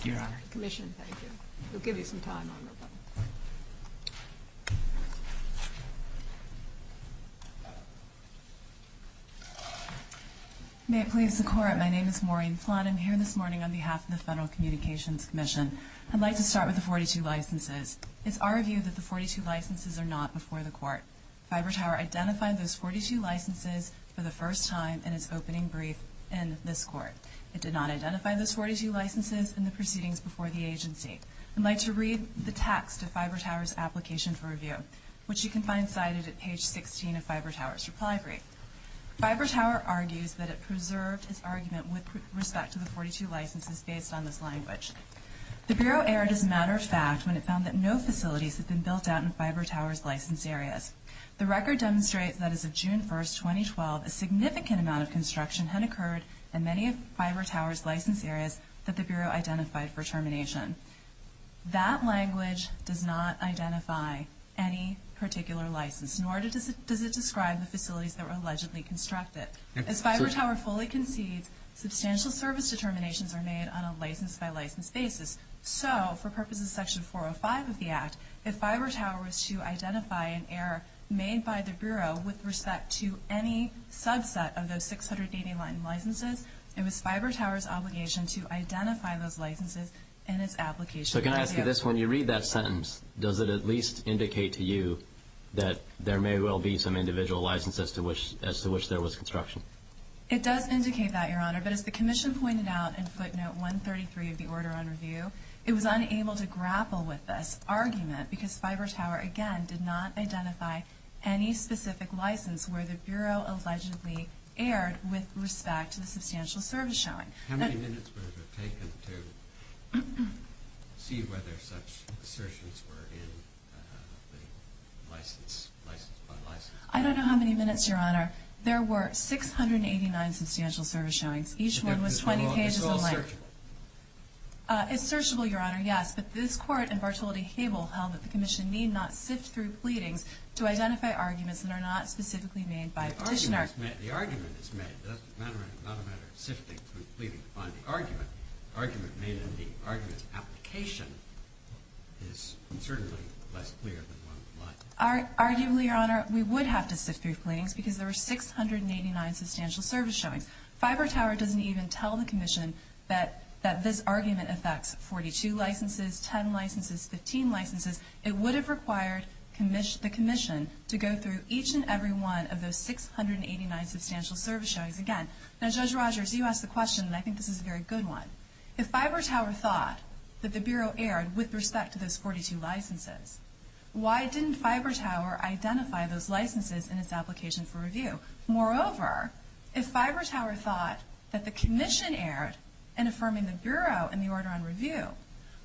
commission. Thank you. Thank you. We'll give you some time on this one. May it please the Court, my name is Maureen Flanagan. Here this morning on behalf of the Federal Communications Commission, I'd like to start with the 42 licenses. It's our view that the 42 licenses are not before the Court. Fiber Tower identified those 42 licenses for the first time in its opening brief in this Court. It did not identify those 42 licenses in the proceedings before the agency. I'd like to read the text of Fiber Tower's application for review, which you can find cited at page 16 of Fiber Tower's reply brief. Fiber Tower argues that it preserved its argument with respect to the 42 licenses based on this language. The Bureau erred as a matter of fact when it found that no facilities had been built out in Fiber Tower's license areas. The record demonstrates that as of June 1, 2012, a significant amount of construction had occurred in many of Fiber Tower's license areas that the Bureau identified for termination. That language does not identify any particular license, nor does it describe the facilities that were allegedly constructed. If Fiber Tower fully concedes, substantial service determinations are made on a license-by-license basis. So, for purposes of Section 405 of the Act, if Fiber Tower was to identify an error made by the Bureau with respect to any subset of those 680 licenses, it was Fiber Tower's obligation to identify those licenses in its application. So can I ask you this? When you read that sentence, does it at least indicate to you that there may well be some individual licenses as to which there was construction? It does indicate that, Your Honor. But as the Commission pointed out in footnote 133 of the Order on Review, it was unable to grapple with this argument because Fiber Tower, again, did not identify any specific license where the Bureau allegedly erred with respect to the substantial service showing. How many minutes would it have taken to see whether such assertions were in license-by-license? I don't know how many minutes, Your Honor. There were 689 substantial service showings. Each one was 20 pages in length. Is this all searchable? It's searchable, Your Honor, yes. But this Court in Bartoldi-Cable held that the Commission need not sift through pleadings to identify arguments that are not specifically made by commissioners. The argument is made. It's not a matter of sifting through pleadings to find the argument. The argument made in the argument's application is certainly less clear than one would like. Arguably, Your Honor, we would have to sift through pleadings because there were 689 substantial service showings. Fiber Tower doesn't even tell the Commission that this argument affects 42 licenses, 10 licenses, 15 licenses. It would have required the Commission to go through each and every one of those 689 substantial service showings again. Now, Judge Rogers, you asked the question and I think this is a very good one. If Fiber Tower thought that the Bureau erred with respect to those 42 licenses, why didn't Fiber Tower identify those licenses in its application for review? Moreover, if Fiber Tower thought that the Commission erred in affirming the Bureau in the order on review,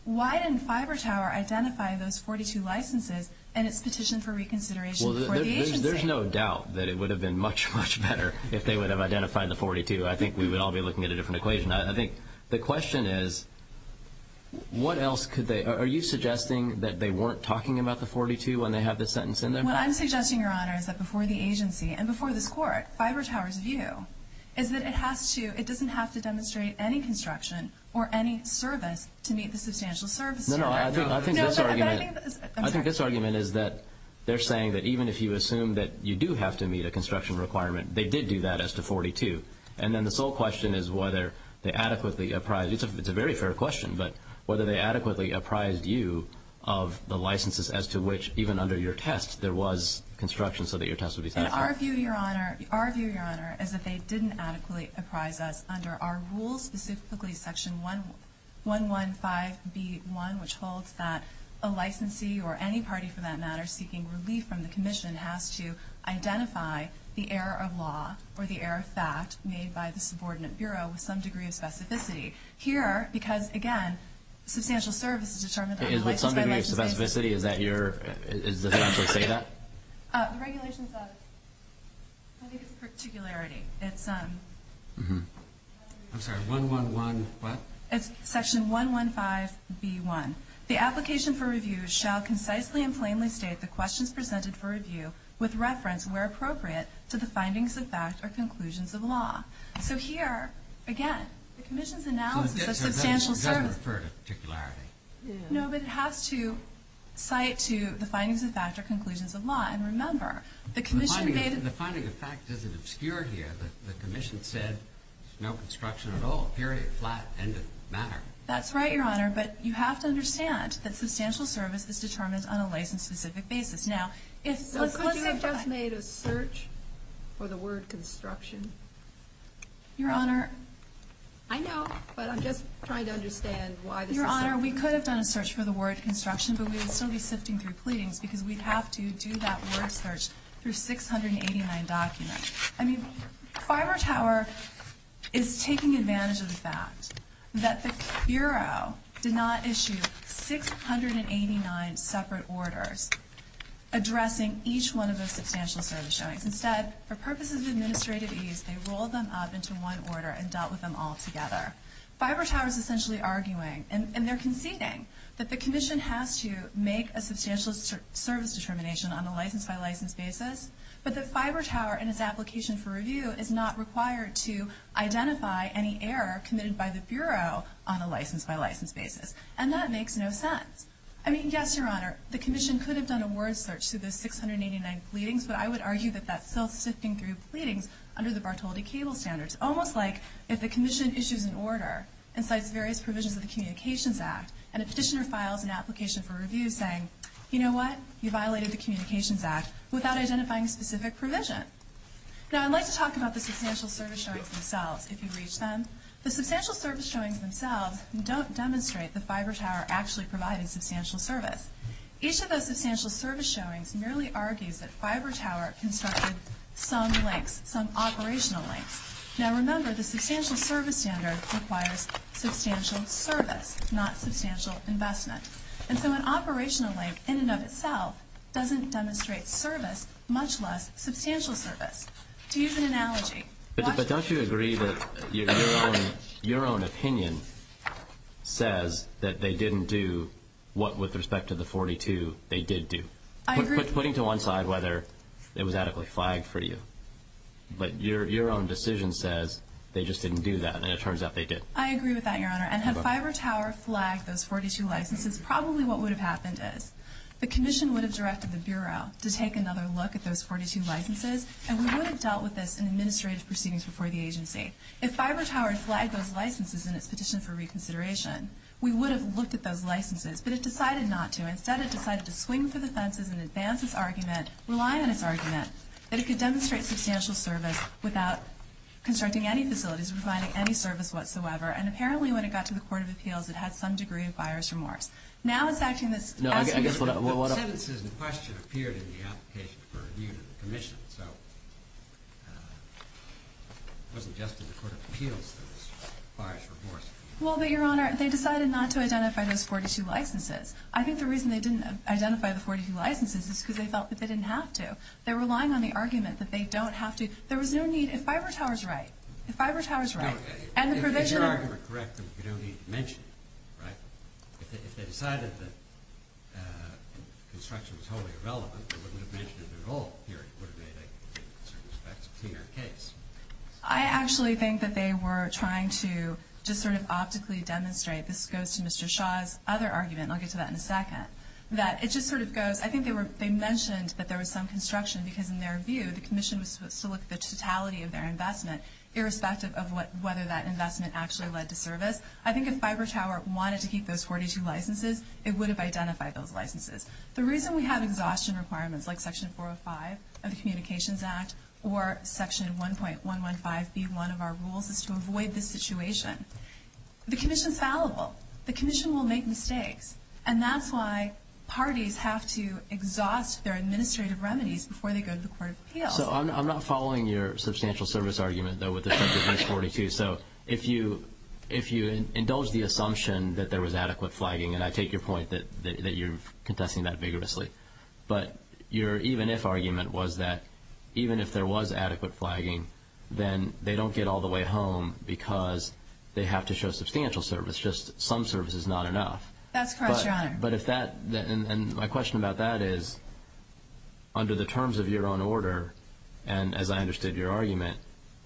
why didn't Fiber Tower identify those 42 licenses in its petition for reconsideration for the agency? There's no doubt that it would have been much, much better if they would have identified the 42. I think we would all be looking at a different equation. I think the question is, what else could they, are you suggesting that they weren't talking about the 42 when they have this sentence in there? What I'm suggesting, Your Honor, is that before the agency and before this Court, Fiber Tower's view is that it doesn't have to demonstrate any construction or any service to meet the substantial service requirement. I think this argument is that they're saying that even if you assume that you do have to meet a construction requirement, they did do that as to 42. And then the sole question is whether they adequately apprised, it's a very fair question, but whether they adequately apprised you of the licenses as to which even under your test there was construction so that your test would be fair. Our view, Your Honor, our view, Your Honor, is that they didn't adequately apprise us under our rules, specifically Section 115B1, which holds that a licensee or any party for that matter seeking relief from the error of law or the error of fact made by the subordinate Bureau with some degree of specificity. Here, because again, substantial service is determined by... Is there some degree of specificity? Is that your... Is the statute say that? The regulations have... I think it's particularity. It's... I'm sorry. 111 what? It's Section 115B1. The application for review shall concisely and plainly state the questions presented for review with reference, where appropriate, to the findings of facts or conclusions of law. So here, again, the Commission's analysis of substantial service... It doesn't refer to particularity. No, but it has to cite to the findings of facts or conclusions of law. And remember, the Commission... The finding of facts isn't obscure here. The Commission said no construction at all, period, flat, independent matter. That's right, Your Honor, but you have to understand that substantial service is determined on a license specific basis. Now, if... The Commission has just made a search for the word construction. Your Honor... I know, but I'm just trying to understand why... Your Honor, we could have done a search for the word construction, but we would still be sifting through pleadings, because we'd have to do that word search through 689 documents. I mean, Fiber Tower is taking advantage of the fact that the Bureau did not issue 689 separate orders addressing each one of those substantial services. Instead, for purposes of administrative ease, they rolled them up into one order and dealt with them all together. Fiber Tower is essentially arguing, and they're conceding, that the Commission has to make a substantial service determination on a license-by-license basis, but that Fiber Tower and its application for review is not required to identify any error committed by the Bureau on a license-by-license basis. And that makes no sense. I mean, yes, Your Honor, the Commission could have done a word search through the 689 pleadings, but I would argue that that's still sifting through pleadings under the Bartoldi Cable Standards, almost like if the Commission issues an order and cites various provisions of the Communications Act, and a petitioner files an application for review saying, you know what, you violated the Communications Act without identifying specific provisions. Now, I'd like to talk about the substantial service showings themselves, if you reach them. The substantial service showings themselves don't demonstrate that Fiber Tower actually provided substantial service. Each of those substantial service showings merely argues that Fiber Tower constructed some links, some operational links. Now remember, the substantial service standards require substantial service, not substantial investment. And so an operational link, in and of itself, doesn't demonstrate service, much less substantial service. To use an analogy, But don't you agree that your own opinion says that they didn't do what, with respect to the 42, they did do? I agree. Putting to one side whether it was adequately flagged for you, but your own decision says they just didn't do that, and it turns out they did. I agree with that, Your Honor, and had Fiber Tower flagged those 42 licenses, probably what would have happened is the Commission would have directed the Bureau to take another look at those 42 licenses, and we would have dealt with this in administrative proceedings before the agency. If Fiber Tower flagged those licenses in its petition for reconsideration, we would have looked at those licenses, but it decided not to. Instead, it decided to swing to the senses and advance its argument, rely on its argument, that it could demonstrate substantial service without constructing any facilities, providing any service whatsoever, and apparently when it got to the Court of Appeals, it had some degree of virus remorse. Now it's acting this absolutely different way. Well, what I'm saying is the question appeared in the application for review to the Commission, so it wasn't just in the Court of Appeals, it was virus remorse. Well, but, Your Honor, they decided not to identify those 42 licenses. I think the reason they didn't identify the 42 licenses is because they felt that they didn't have to. They were relying on the argument that they don't have to. There was no need. If Fiber Tower's right, if Fiber Tower's right, and the Provisioner. If the hearing were correct, there would be no need to mention it, right? If they decided that construction was totally irrelevant, they wouldn't have mentioned it at all in the hearing, would they, with respect to your case? I actually think that they were trying to just sort of optically demonstrate, this goes to Mr. Shaw's other argument, and I'll get to that in a second, that it just sort of goes, I think they mentioned that there was some construction, because in their view, the Commission was supposed to look at the totality of their investment, irrespective of whether that investment actually led to service. I think if Fiber Tower wanted to keep those 42 licenses, it would have identified those licenses. The reason we have exhaustion requirements, like Section 405 of the Communications Act, or Section 1.115B1 of our rules, is to avoid this situation. The Commission is fallible. The Commission will make mistakes, and that's why parties have to exhaust their administrative remedies before they go to the court of appeals. So I'm not following your substantial service argument, though, with respect to those 42. So if you indulge the assumption that there was adequate flagging, and I take your point that you're contesting that vigorously, but your even-if argument was that even if there was adequate flagging, then they don't get all the way home, because they have to show substantial service, just some service is not enough. That's correct, Your Honor. And my question about that is, under the terms of your own order, and as I understood your argument,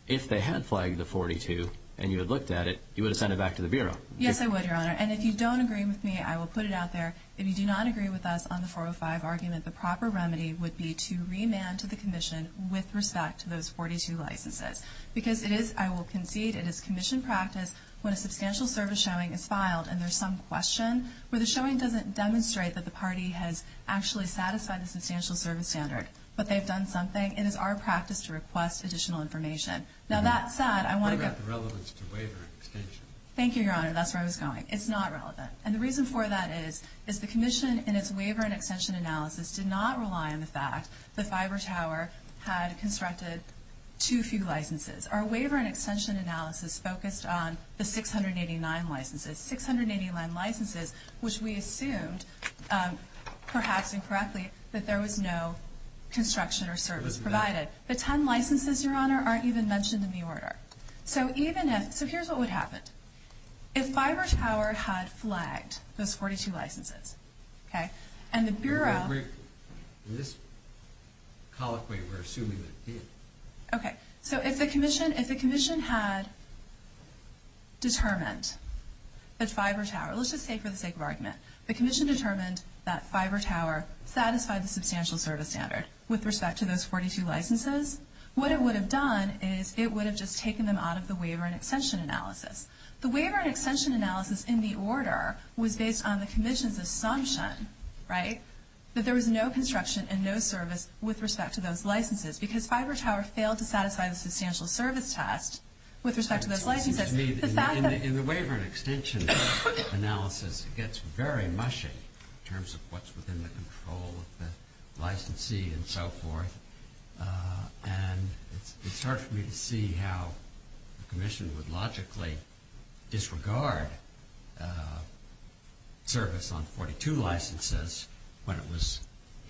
if they had flagged the 42 and you had looked at it, you would have sent it back to the Bureau. Yes, I would, Your Honor. And if you don't agree with me, I will put it out there. If you do not agree with us on the 405 argument, the proper remedy would be to remand to the Commission with respect to those 42 licenses. Because it is, I will concede, it is Commission practice when a substantial service showing is filed and there's some question where the showing doesn't demonstrate that the party has actually satisfied the substantial service standard, but they've done something, and it's our practice to request additional information. Now, that said, I want to get... It's not relevant to waiver and extension. Thank you, Your Honor. That's where I was going. It's not relevant. And the reason for that is, is the Commission in its waiver and extension analysis did not rely on the fact the Fiber Tower had constructed too few licenses. Our waiver and extension analysis focused on the 689 licenses. Six hundred and eighty-nine licenses, which we assumed, perhaps incorrectly, that there was no construction or service provided. The ten licenses, Your Honor, aren't even mentioned in the order. So even if... So here's what would happen. If Fiber Tower had flagged those 42 licenses, okay, and the Bureau... We're not briefing. In this colloquy, we're assuming that it did. Okay. So if the Commission had determined that Fiber Tower... Let's just say for the sake of argument. The Commission determined that Fiber Tower satisfied the substantial service standard with respect to those 42 licenses. What it would have done is it would have just taken them out of the waiver and extension analysis. The waiver and extension analysis in the order was based on the Commission's assumption, right, that there was no construction and no service with respect to those licenses because Fiber Tower failed to satisfy the substantial service test with respect to those licenses. In the waiver and extension analysis, it gets very mushy in terms of what's within the control of the licensee and so forth, and it starts for me to see how the Commission would logically disregard service on 42 licenses when it was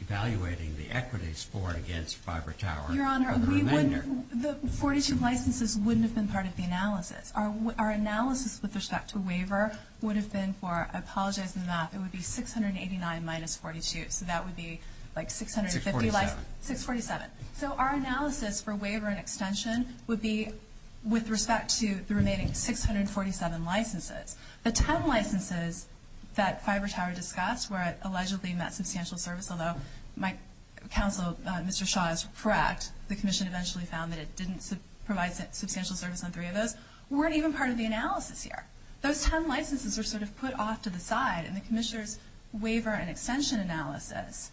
evaluating the equities for and against Fiber Tower. Your Honor, the 42 licenses wouldn't have been part of the analysis. Our analysis with respect to waiver would have been for... I apologize for the math. It would be 689 minus 42, so that would be like 650... 647. 647. So our analysis for waiver and extension would be with respect to the remaining 647 licenses. The 10 licenses that Fiber Tower discussed were allegedly met substantial service, although my counsel, Mr. Shaw, is correct. The Commission eventually found that it didn't provide substantial service on three of those, weren't even part of the analysis here. Those 10 licenses were sort of put off to the side in the Commissioner's waiver and extension analysis,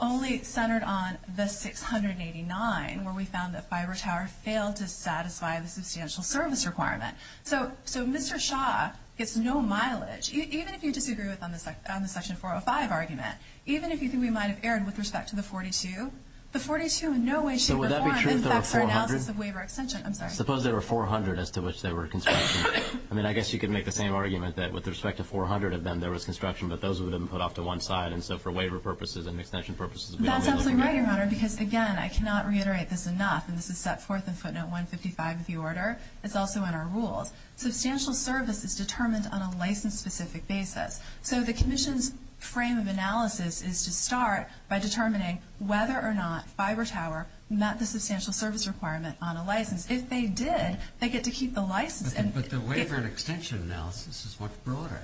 only centered on the 689 where we found that Fiber Tower failed to satisfy the substantial service requirement. So Mr. Shaw gets no mileage. Even if you disagree with the Section 405 argument, even if you think we might have erred with respect to the 42, the 42 in no way, shape, or form... So would that be true if there were 400? I'm sorry. Suppose there were 400 as to which they were constructed. I mean, I guess you could make the same argument that with respect to 400 of them there was construction, but those were then put off to one side, and so for waiver purposes and extension purposes... That's absolutely right, Your Honor, because, again, I cannot reiterate this enough, and this is Step 4 in Footnote 155 of the order. It's also in our rules. Substantial service is determined on a license-specific basis. So the Commission's frame of analysis is to start by determining whether or not Fiber Tower met the substantial service requirement on a license. If they did, they get to keep the license. But the waiver and extension analysis is much broader.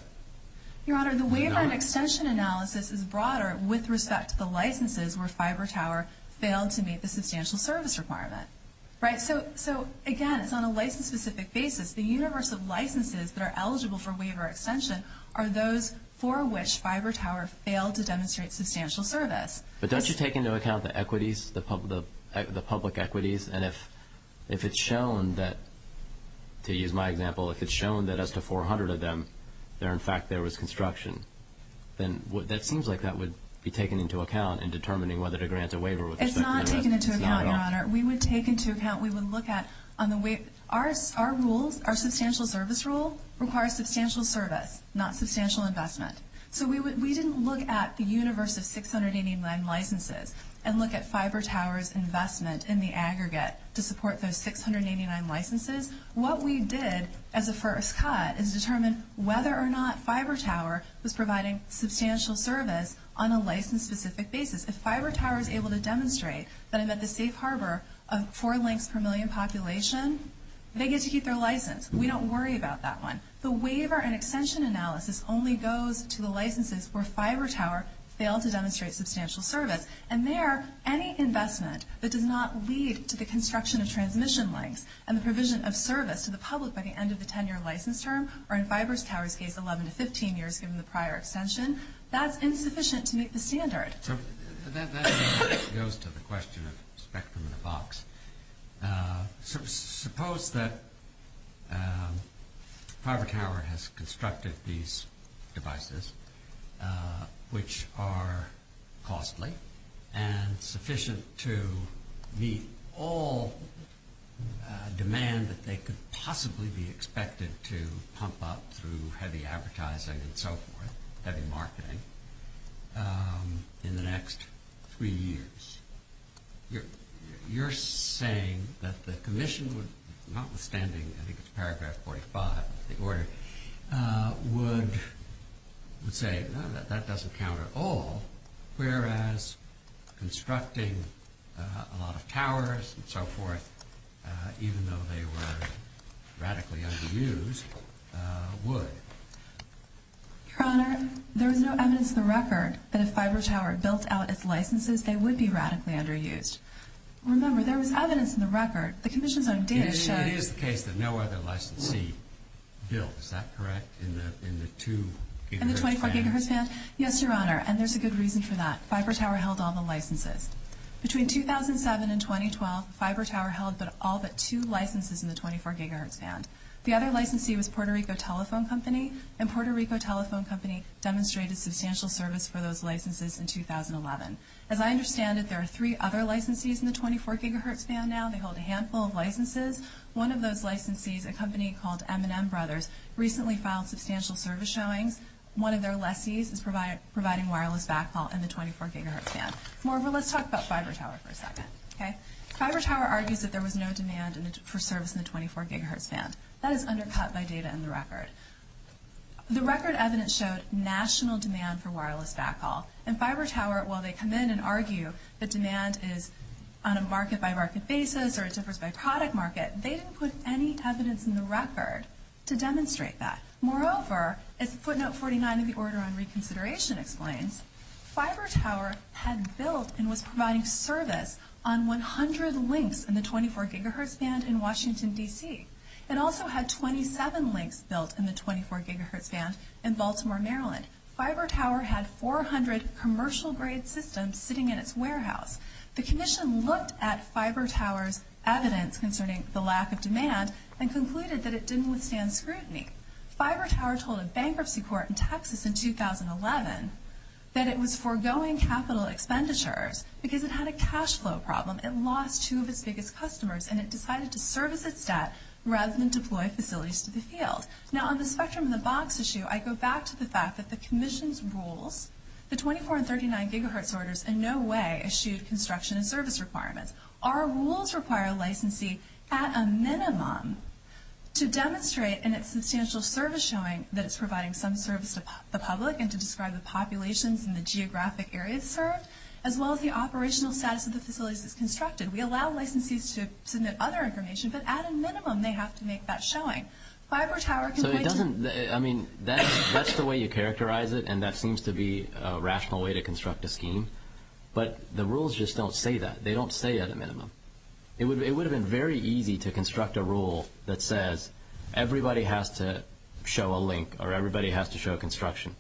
Your Honor, the waiver and extension analysis is broader with respect to the licenses where Fiber Tower failed to meet the substantial service requirement. So, again, it's on a license-specific basis. The universe of licenses that are eligible for waiver extension are those for which Fiber Tower failed to demonstrate substantial service. But don't you take into account the equities, the public equities? And if it's shown that, to use my example, if it's shown that as to 400 of them there, in fact, there was construction, then it seems like that would be taken into account in determining whether to grant a waiver. It's not taken into account, Your Honor. We would take into account, we would look at on the waiver. Our rules, our substantial service rules, require substantial service, not substantial investment. So we didn't look at the universe of 689 licenses and look at Fiber Tower's investment in the aggregate to support those 689 licenses. What we did as a first cut is determine whether or not Fiber Tower was providing substantial service on a license-specific basis. If Fiber Tower is able to demonstrate that it's at the safe harbor of four links per million population, they get to keep their license. We don't worry about that one. The waiver and extension analysis only goes to the licenses where Fiber Tower failed to demonstrate substantial service. And there, any investment that did not lead to the construction of transmission lines and the provision of service to the public by the end of the 10-year license term, or in Fiber Tower's case, 11 to 15 years, given the prior extension, That goes to the question of spectrum in a box. Suppose that Fiber Tower has constructed these devices, which are costly and sufficient to meet all demand that they could possibly be expected to pump up through heavy advertising and so forth, heavy marketing, in the next three years. You're saying that the Commission, notwithstanding, I think it's paragraph 45 of the order, would say that that doesn't count at all, whereas constructing a lot of towers and so forth, even though they were radically underused, would. Your Honor, there is no evidence in the record that if Fiber Tower built out its licenses, they would be radically underused. Remember, there was evidence in the record. The Commission's own data shows... It is the case that no other licensee built, is that correct, in the two gigahertz band? In the 24 gigahertz band? Yes, Your Honor, and there's a good reason for that. Fiber Tower held all the licenses. Between 2007 and 2012, Fiber Tower held all but two licenses in the 24 gigahertz band. The other licensee was Puerto Rico Telephone Company, and Puerto Rico Telephone Company demonstrated substantial service for those licenses in 2011. As I understand it, there are three other licensees in the 24 gigahertz band now. They hold a handful of licenses. One of those licensees, a company called M&M Brothers, recently filed substantial service showing. One of their lessees is providing wireless backhaul in the 24 gigahertz band. Let's talk about Fiber Tower for a second, okay? Fiber Tower argues that there was no demand for service in the 24 gigahertz band. That is undercut by data in the record. The record evidence shows national demand for wireless backhaul, and Fiber Tower, while they come in and argue that demand is on a market-by-market basis or a service-by-product market, they didn't put any evidence in the record to demonstrate that. Moreover, as footnote 49 of the Order on Reconsideration explains, Fiber Tower had built and was providing service on 100 links in the 24 gigahertz band in Washington, D.C. It also had 27 links built in the 24 gigahertz band in Baltimore, Maryland. Fiber Tower had 400 commercial-grade systems sitting in its warehouse. The Commission looked at Fiber Tower's evidence concerning the lack of demand and concluded that it didn't withstand scrutiny. Fiber Tower told a bankruptcy court in Texas in 2011 that it was foregoing capital expenditures because it had a cash flow problem. It lost two of its biggest customers, and it decided to service its debt rather than deploy facilities to be sealed. Now, on the spectrum of the box issue, I go back to the fact that the Commission's rules, the 24 and 39 gigahertz orders, in no way issued construction and service requirements. Our rules require a licensee, at a minimum, to demonstrate an existential service showing that it's providing some service to the public and to describe the populations and the geographic areas served as well as the operational status of the facilities it's constructed. We allow licensees to submit other information, but at a minimum, they have to make that showing. Fiber Tower... It doesn't... I mean, that's the way you characterize it, and that seems to be a rational way to construct a scheme, but the rules just don't say that. They don't say, at a minimum. It would have been very easy to construct a rule that says, everybody has to show a link or everybody has to show construction,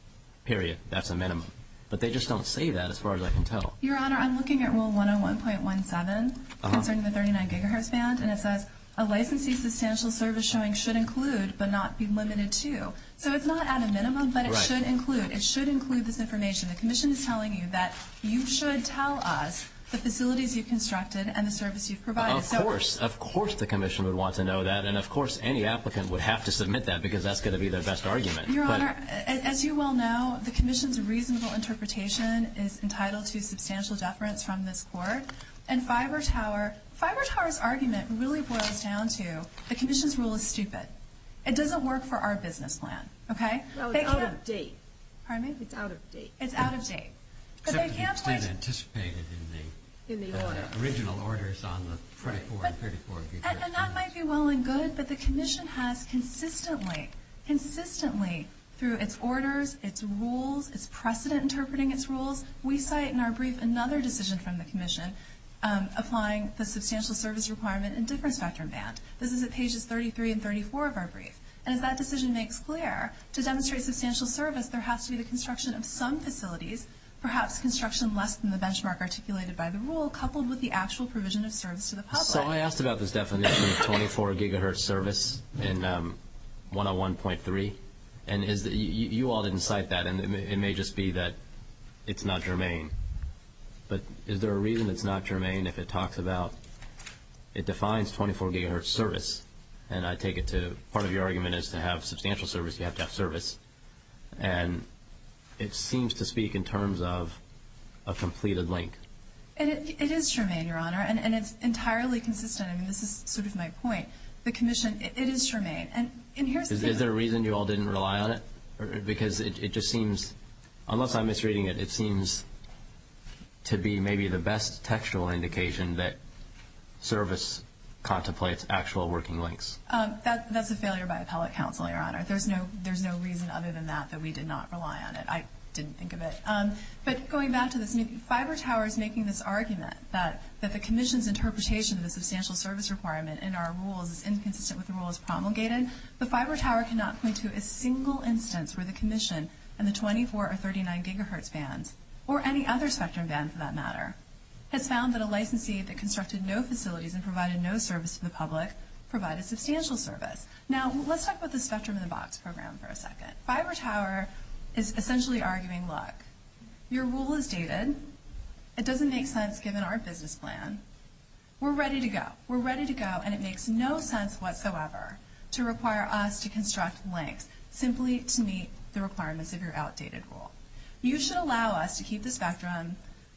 period. That's a minimum. But they just don't say that, as far as I can tell. Your Honor, I'm looking at Rule 101.17 concerning the 39 gigahertz band, and it says, a licensee's substantial service showing should include, but not be limited to. So it's not at a minimum, but it should include. It should include this information. The Commission is telling you that you should tell us the facilities you've constructed and the service you've provided. Of course. Of course the Commission would want to know that, and of course any applicant would have to submit that because that's going to be their best argument. Your Honor, as you well know, the Commission's reasonable interpretation is entitled to substantial deference from this Court, and Fiber Tower... Fiber Tower's argument really boils down to the Commission's rule is stupid. It doesn't work for our business plan. Okay? So it's out of date. Pardon me? It's out of date. It's out of date. But they do have... Except they didn't anticipate it in the original orders on the 24 and 34... And that might be well and good, but the Commission has consistently, consistently, through its orders, its rules, its precedent interpreting its rules, we cite in our brief another decision from the Commission applying the substantial service requirement in a different spectrum band. This is at pages 33 and 34 of our brief. And if that decision makes clear, to demonstrate substantial service, there has to be the construction of some facilities, perhaps construction less than the benchmark articulated by the rule, coupled with the actual provision of service to the public. So I asked about this definition of 24 gigahertz service in 101.3, and you all didn't cite that, and it may just be that it's not germane. But is there a reason it's not germane if it talks about... It defines 24 gigahertz service, and I take it to... Part of your argument is to have substantial service, you have to have service. And it seems to speak in terms of a completed length. It is germane, Your Honor, and it's entirely consistent. I mean, this is my point. The Commission, it is germane. Is there a reason you all didn't rely on it? Because it just seems... Unless I'm misreading it, it seems to be maybe the best textual indication that service contemplates actual working lengths. That's a failure by appellate counsel, Your Honor. There's no reason other than that that we did not rely on it. I didn't think of it. But going back to this, Fiber Tower is making this argument that the Commission's interpretation of the substantial service requirement in our rule is inconsistent with the rules promulgated. The Fiber Tower cannot point to a single instance where the Commission and the 24 or 39 gigahertz ban, or any other spectrum ban for that matter, has found that a licensee that constructed no facilities and provided no service to the public provided substantial service. Now, let's talk about the spectrum in the box program for a second. Fiber Tower is essentially arguing, Look, your rule is dated. It doesn't make sense given our business plan. We're ready to go. We're ready to go, and it makes no sense whatsoever to require us to construct length simply to meet the requirements of your outdated rule. You should allow us to keep the spectrum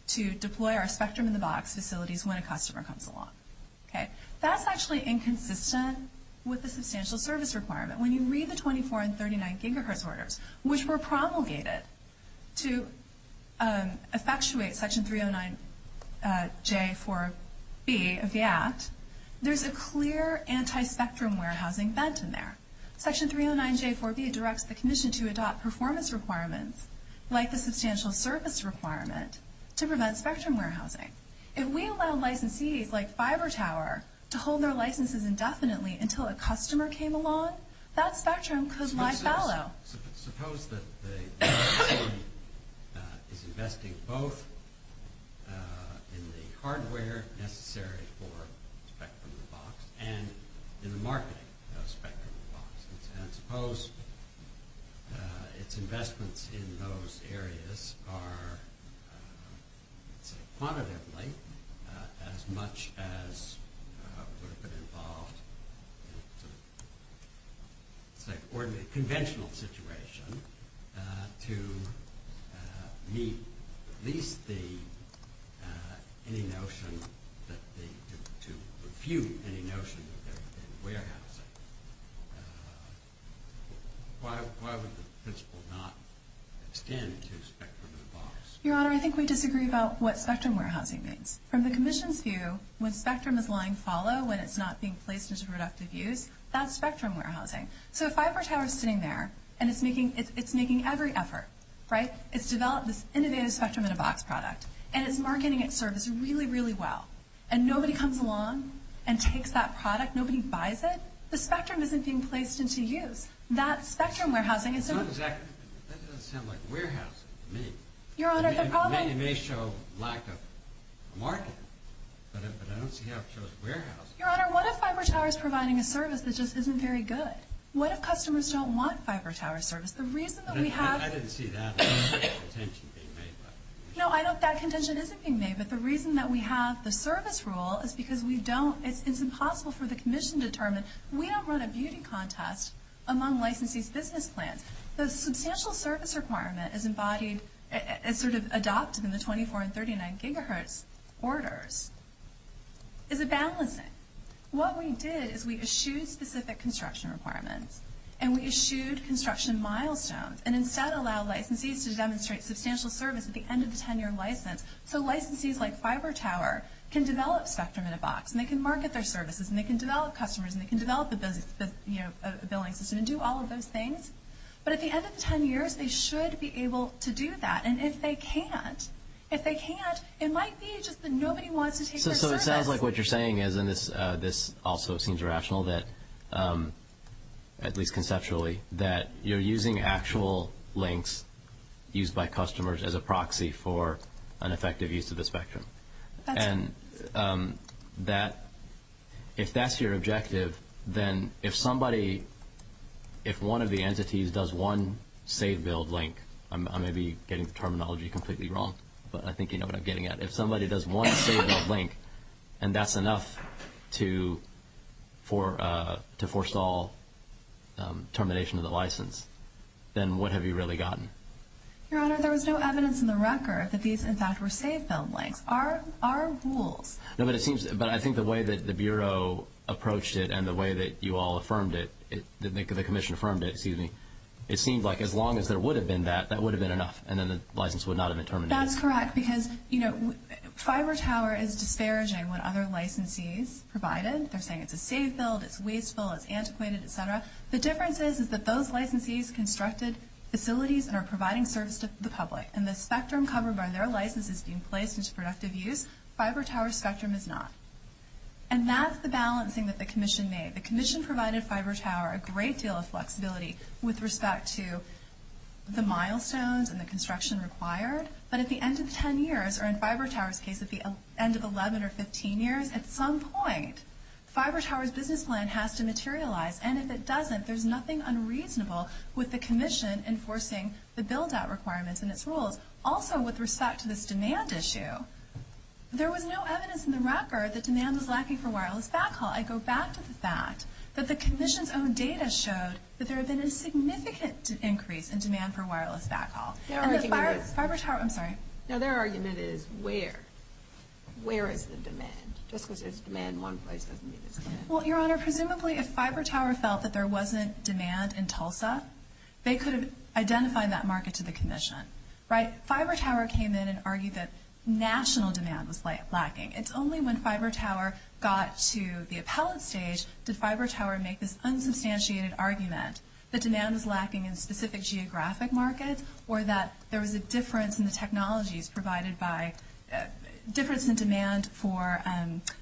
to deploy our spectrum in the box facilities when a customer comes along. That's actually inconsistent with the substantial service requirement. When you read the 24 and 39 gigahertz orders, which were promulgated to effectuate Section 309J4B of the Act, there's a clear anti-spectrum warehousing fence in there. Section 309J4B directs the Commission to adopt performance requirements like the substantial service requirement to prevent spectrum warehousing. If we allow licensees like Fiber Tower to hold their licenses indefinitely until a customer came along, that spectrum could lie shallow. Suppose that the Commission is investing both in the hardware necessary for the spectrum in the box and in the marketing of the spectrum in the box. Suppose its investments in those areas are quantitatively as much as would have been involved in a conventional situation to meet at least any notion to refute any notion that there would be warehousing. Why would the principle not extend to spectrum in the box? Your Honor, I think we disagree about what spectrum warehousing means. From the Commission's view, when spectrum is lying shallow, when it's not being placed into productive use, that's spectrum warehousing. So if Fiber Tower is sitting there and it's making every effort, right? It's developed this innovative spectrum in a box product and it's marketing its service really, really well and nobody comes along and takes that product, nobody buys it, the spectrum isn't being placed into use. That's spectrum warehousing. That doesn't sound like warehousing to me. Your Honor, it probably... It may show lack of marketing, but I don't see how it shows warehousing. Your Honor, what if Fiber Tower is providing a service that just isn't very good? What if customers don't want Fiber Tower service? The reason that we have... I didn't see that as a contention being made. No, I know that contention isn't being made, but the reason that we have the service rule is because we don't... It's impossible for the commission to determine that we don't run a beauty contest among licensees' business plans. The substantial service requirement is embodied... It's sort of adopted in the 24 and 39 gigahertz orders. It's a balancing. What we did is we eschewed specific construction requirements and we eschewed construction milestones and instead allowed licensees to demonstrate substantial service at the end of the 10-year license. So licensees like Fiber Tower can develop spectrum in a box and they can market their services and they can develop customers and they can develop a billing system and do all of those things. But at the end of the 10 years, they should be able to do that. And if they can't, it might be just that nobody wants to... So it sounds like what you're saying is, and this also seems rational, at least conceptually, that you're using actual links used by customers as a proxy for an effective use of the spectrum. And if that's your objective, then if somebody, if one of the entities, does one save-build link... I may be getting the terminology completely wrong, but I think you know what I'm getting at. If somebody does one save-build link and that's enough to foresaw termination of the license, then what have you really gotten? Your Honor, there was no evidence in the record that these, in fact, were save-build links. Our rules... But I think the way that the Bureau approached it and the way that you all affirmed it, the Commission affirmed it, excuse me, it seemed like as long as there would have been that, that would have been enough and then the license would not have been terminated. That's correct, because Fiber Tower is disparaging when other licensees provide it. They're saying it's a save-build, it's wasteful, it's antiquated, et cetera. The difference is that those licensees have constructed facilities and are providing service to the public, and the spectrum covered by their license is being placed into productive use. Fiber Tower's spectrum is not. And that's the balancing that the Commission made. The Commission provided Fiber Tower a great deal of flexibility with respect to the milestones and the construction required, but at the end of 10 years, or in Fiber Tower's case, at the end of 11 or 15 years, at some point, Fiber Tower's business plan has to materialize, and if it doesn't, there's nothing unreasonable with the Commission enforcing the build-out requirements and its rules. Also, with respect to this demand issue, there was no evidence in the report that demand was lacking for wireless backhaul. I go back to the fact that the Commission's own data shows that there has been a significant increase in demand for wireless backhaul. And the Fiber Tower, I'm sorry. No, their argument is, where? Where is the demand? Just because there's demand in one place doesn't mean there's demand. Well, Your Honor, presumably if Fiber Tower felt that there wasn't demand in Tulsa, they could have identified that market to the Commission. Right? Fiber Tower came in and argued that national demand was lacking. It's only when Fiber Tower got to the appellate stage did Fiber Tower make this unsubstantiated argument that demand was lacking in specific geographic markets or that there was a difference in the technologies provided by difference in demand for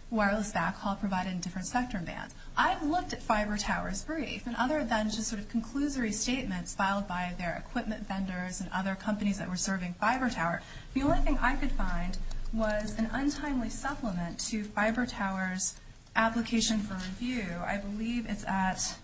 wireless backhaul provided in different sector bands. I've looked at Fiber Tower's brief, and other than just sort of conclusory statements filed by their equipment vendors and other companies that were serving Fiber Tower, the only thing I could find was an untimely supplement to Fiber Tower's application for review. I believe it's at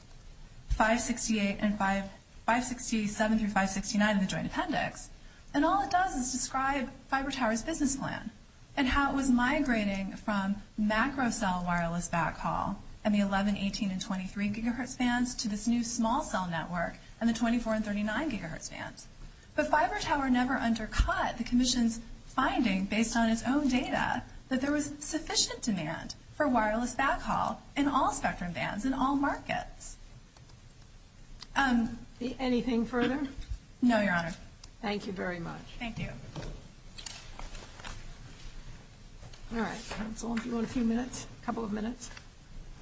568 and 567 through 569 in the joint appendix. And all it does is describe Fiber Tower's business plan and how it was migrating from macro cell wireless backhaul and the 11, 18, and 23 gigahertz bands to this new small cell network and the 24 and 39 gigahertz bands. But Fiber Tower never undercut the Commission's finding based on its own data that there was sufficient demand for wireless backhaul in all sector bands in all markets. Anything further? No, Your Honor. Thank you very much. Thank you. All right. Counsel, if you want a few minutes, a couple of minutes.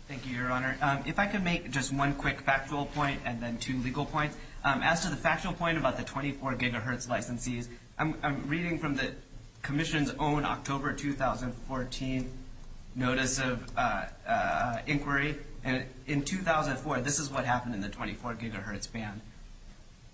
Thank you, Your Honor. If I could make just one quick factual point and then two legal points. As to the factual point about the 24 gigahertz licensees, I'm reading from the Commission's own October 2014 notice of inquiry. In 2004, this is what happened in the 24 gigahertz band.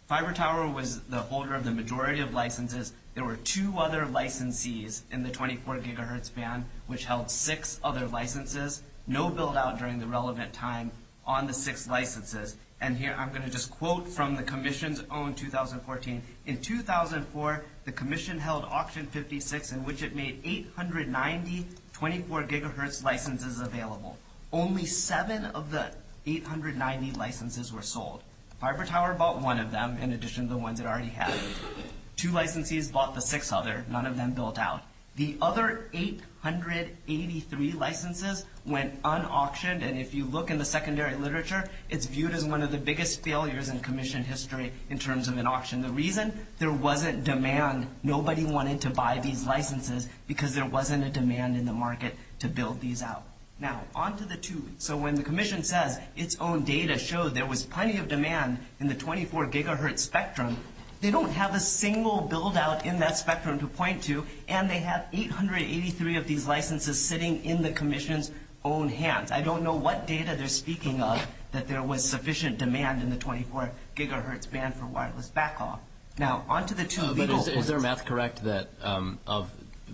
Fiber Tower was the holder of the majority of licenses and there were two other licensees in the 24 gigahertz band which held six other licenses, no build-out during the relevant time on the six licenses. And here I'm going to just quote from the Commission's own 2014. In 2004, the Commission held auction 56 in which it made 890 24 gigahertz licenses available. Only seven of the 890 licenses were sold. Fiber Tower bought one of them in addition to the ones it already had. Two licensees bought the sixth other. None of them built out. The other 883 licenses went unauctioned, and if you look in the secondary literature, it's viewed as one of the biggest failures in Commission history in terms of an auction. The reason, there wasn't demand. Nobody wanted to buy these licenses because there wasn't a demand in the market to build these out. Now, on to the two. So when the Commission says its own data shows there was plenty of demand in the 24 gigahertz spectrum, they don't have a single build-out in that spectrum to point to, and they have 883 of these licenses sitting in the Commission's own hands. I don't know what data they're speaking of that there was sufficient demand in the 24 gigahertz band for wireless backhaul. Now, on to the two. Is their math correct that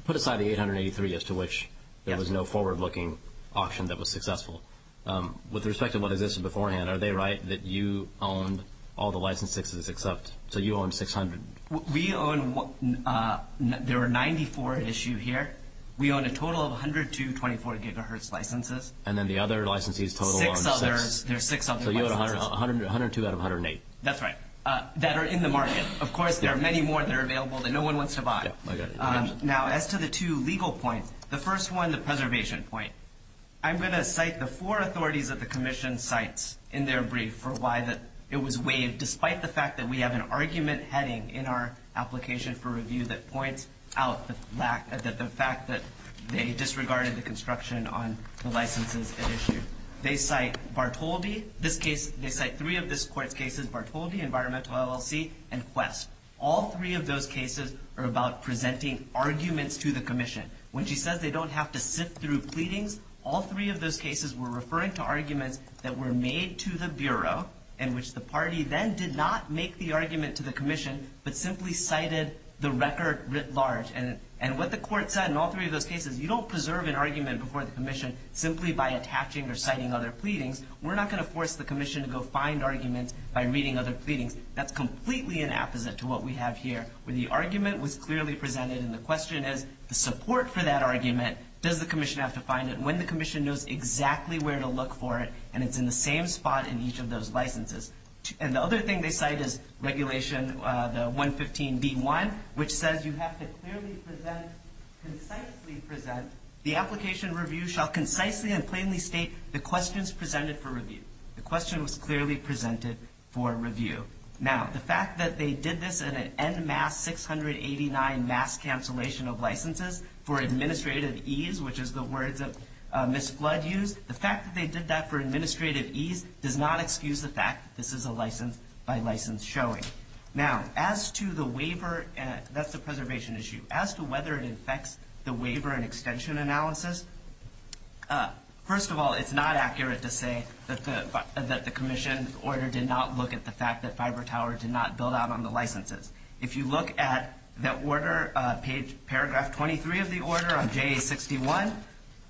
put aside the 883 as to which there was no forward-looking auction that was successful? With respect to whether this is beforehand, are they right that you owned all the licenses except, so you owned 600? We owned, there were 94 issued here. We owned a total of 122 24 gigahertz licenses. And then the other licensees totaled on six. There's six others. So you had 102 out of 108. That's right, that are in the market. Of course, there are many more that are available that no one wants to buy. Now, as to the two legal points, the first one, the preservation point, I'm going to cite the four authorities that the Commission cites in their brief for why it was waived, despite the fact that we have an argument heading in our application for review that points out the fact that they disregarded the construction on the licenses that issued. They cite Bartoldi, this case, they cite three of this court's cases, Bartoldi, Environmental LLC, and Quest. All three of those cases are about presenting arguments to the Commission. When she says they don't have to sift through pleadings, all three of those cases were referring to arguments that were made to the Bureau in which the party then did not make the argument to the Commission but simply cited the record writ large. And what the court said in all three of those cases, you don't preserve an argument before the Commission simply by attaching or citing other pleadings. We're not going to force the Commission to go find arguments by reading other pleadings. That's completely an opposite to what we have here, where the argument was clearly presented and the question is the support for that argument, does the Commission have to find it when the Commission knows exactly where to look for it and it's in the same spot in each of those licenses. And the other thing they cite is regulation, the 115B1, which says you have to clearly present, concisely present, the application review shall concisely and plainly state the questions presented for review. The question was clearly presented for review. Now, the fact that they did this in an en masse 689 mass cancellation of licenses for administrative ease, which is the word that Ms. Flood used, the fact that they did that for administrative ease does not excuse the fact that this is a license by license showing. Now, as to the waiver, that's the preservation issue, as to whether it affects the waiver and extension analysis, first of all, it's not accurate to say that the Commission's order did not look at the fact that FiberTower did not build out on the licenses. If you look at that order, paragraph 23 of the order on JA61,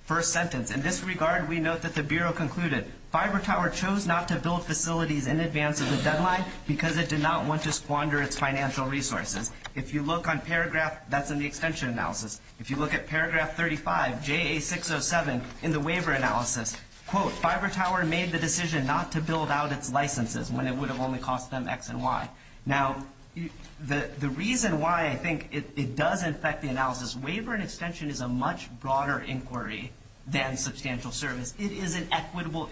first sentence, in this regard, we note that the Bureau concluded, FiberTower chose not to build facilities in advance of the deadline because it did not want to squander its financial resources. If you look on paragraph, that's in the extension analysis. If you look at paragraph 35, JA607, in the waiver analysis, quote, FiberTower made the decision not to build out its licenses when it would have only cost them X and Y. Now, the reason why I think it does affect the analysis, waiver and extension is a much broader inquiry than substantial service. It is an equitable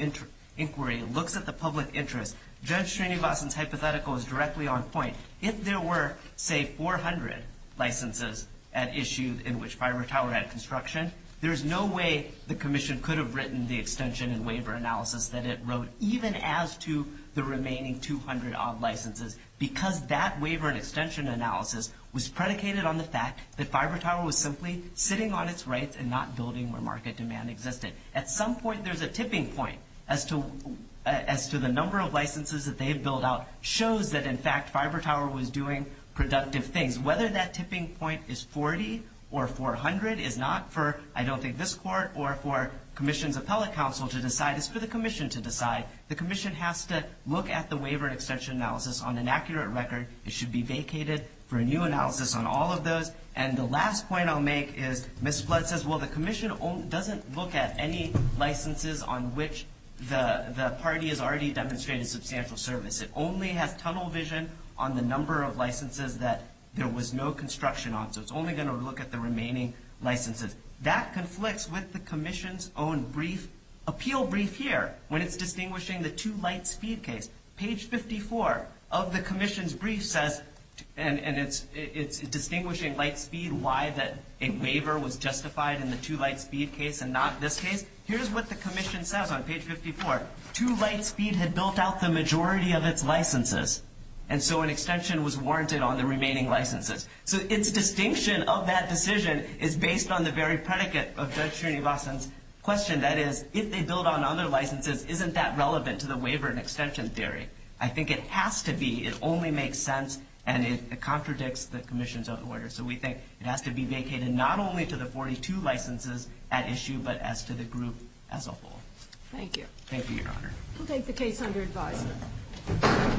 inquiry. It looks at the public interest. Judge Cheneybossom's hypothetical is directly on point. If there were, say, 400 licenses at issues in which FiberTower had construction, there is no way the commission could have written the extension and waiver analysis that it wrote, even as to the remaining 200 odd licenses, because that waiver and extension analysis was predicated on the fact that FiberTower was simply sitting on its rights and not building where market demand existed. At some point, there's a tipping point as to the number of licenses that they had built out showed that, in fact, FiberTower was doing productive things. Whether that tipping point is 40 or 400 is not for, I don't think, this court or for commissions of telecouncil to decide. It's for the commission to decide. The commission has to look at the waiver and extension analysis on an accurate record. It should be vacated for a new analysis on all of those. And the last point I'll make is Ms. Flood says, well, the commission doesn't look at any licenses on which the party has already demonstrated substantial service. It only has tunnel vision on the number of licenses that there was no construction on. So it's only going to look at the remaining licenses. That conflicts with the commission's own brief, appeal brief here, when it's distinguishing the two light speed case. Page 54 of the commission's brief says, and it's distinguishing light speed, why a waiver was justified in the two light speed case and not this case. Here's what the commission says on page 54. Two light speed had built out the majority of its licenses, and so an extension was warranted on the remaining licenses. So its distinction of that decision is based on the very predicate of Judge Trinivasan's question, that is, if they build on other licenses, isn't that relevant to the waiver and extension theory? I think it has to be. It only makes sense, and it contradicts the commission's own words. So we think it has to be vacated not only to the 42 licenses at issue, but as to the group as a whole. Thank you. Thank you, Your Honor. We'll take the case under advisory.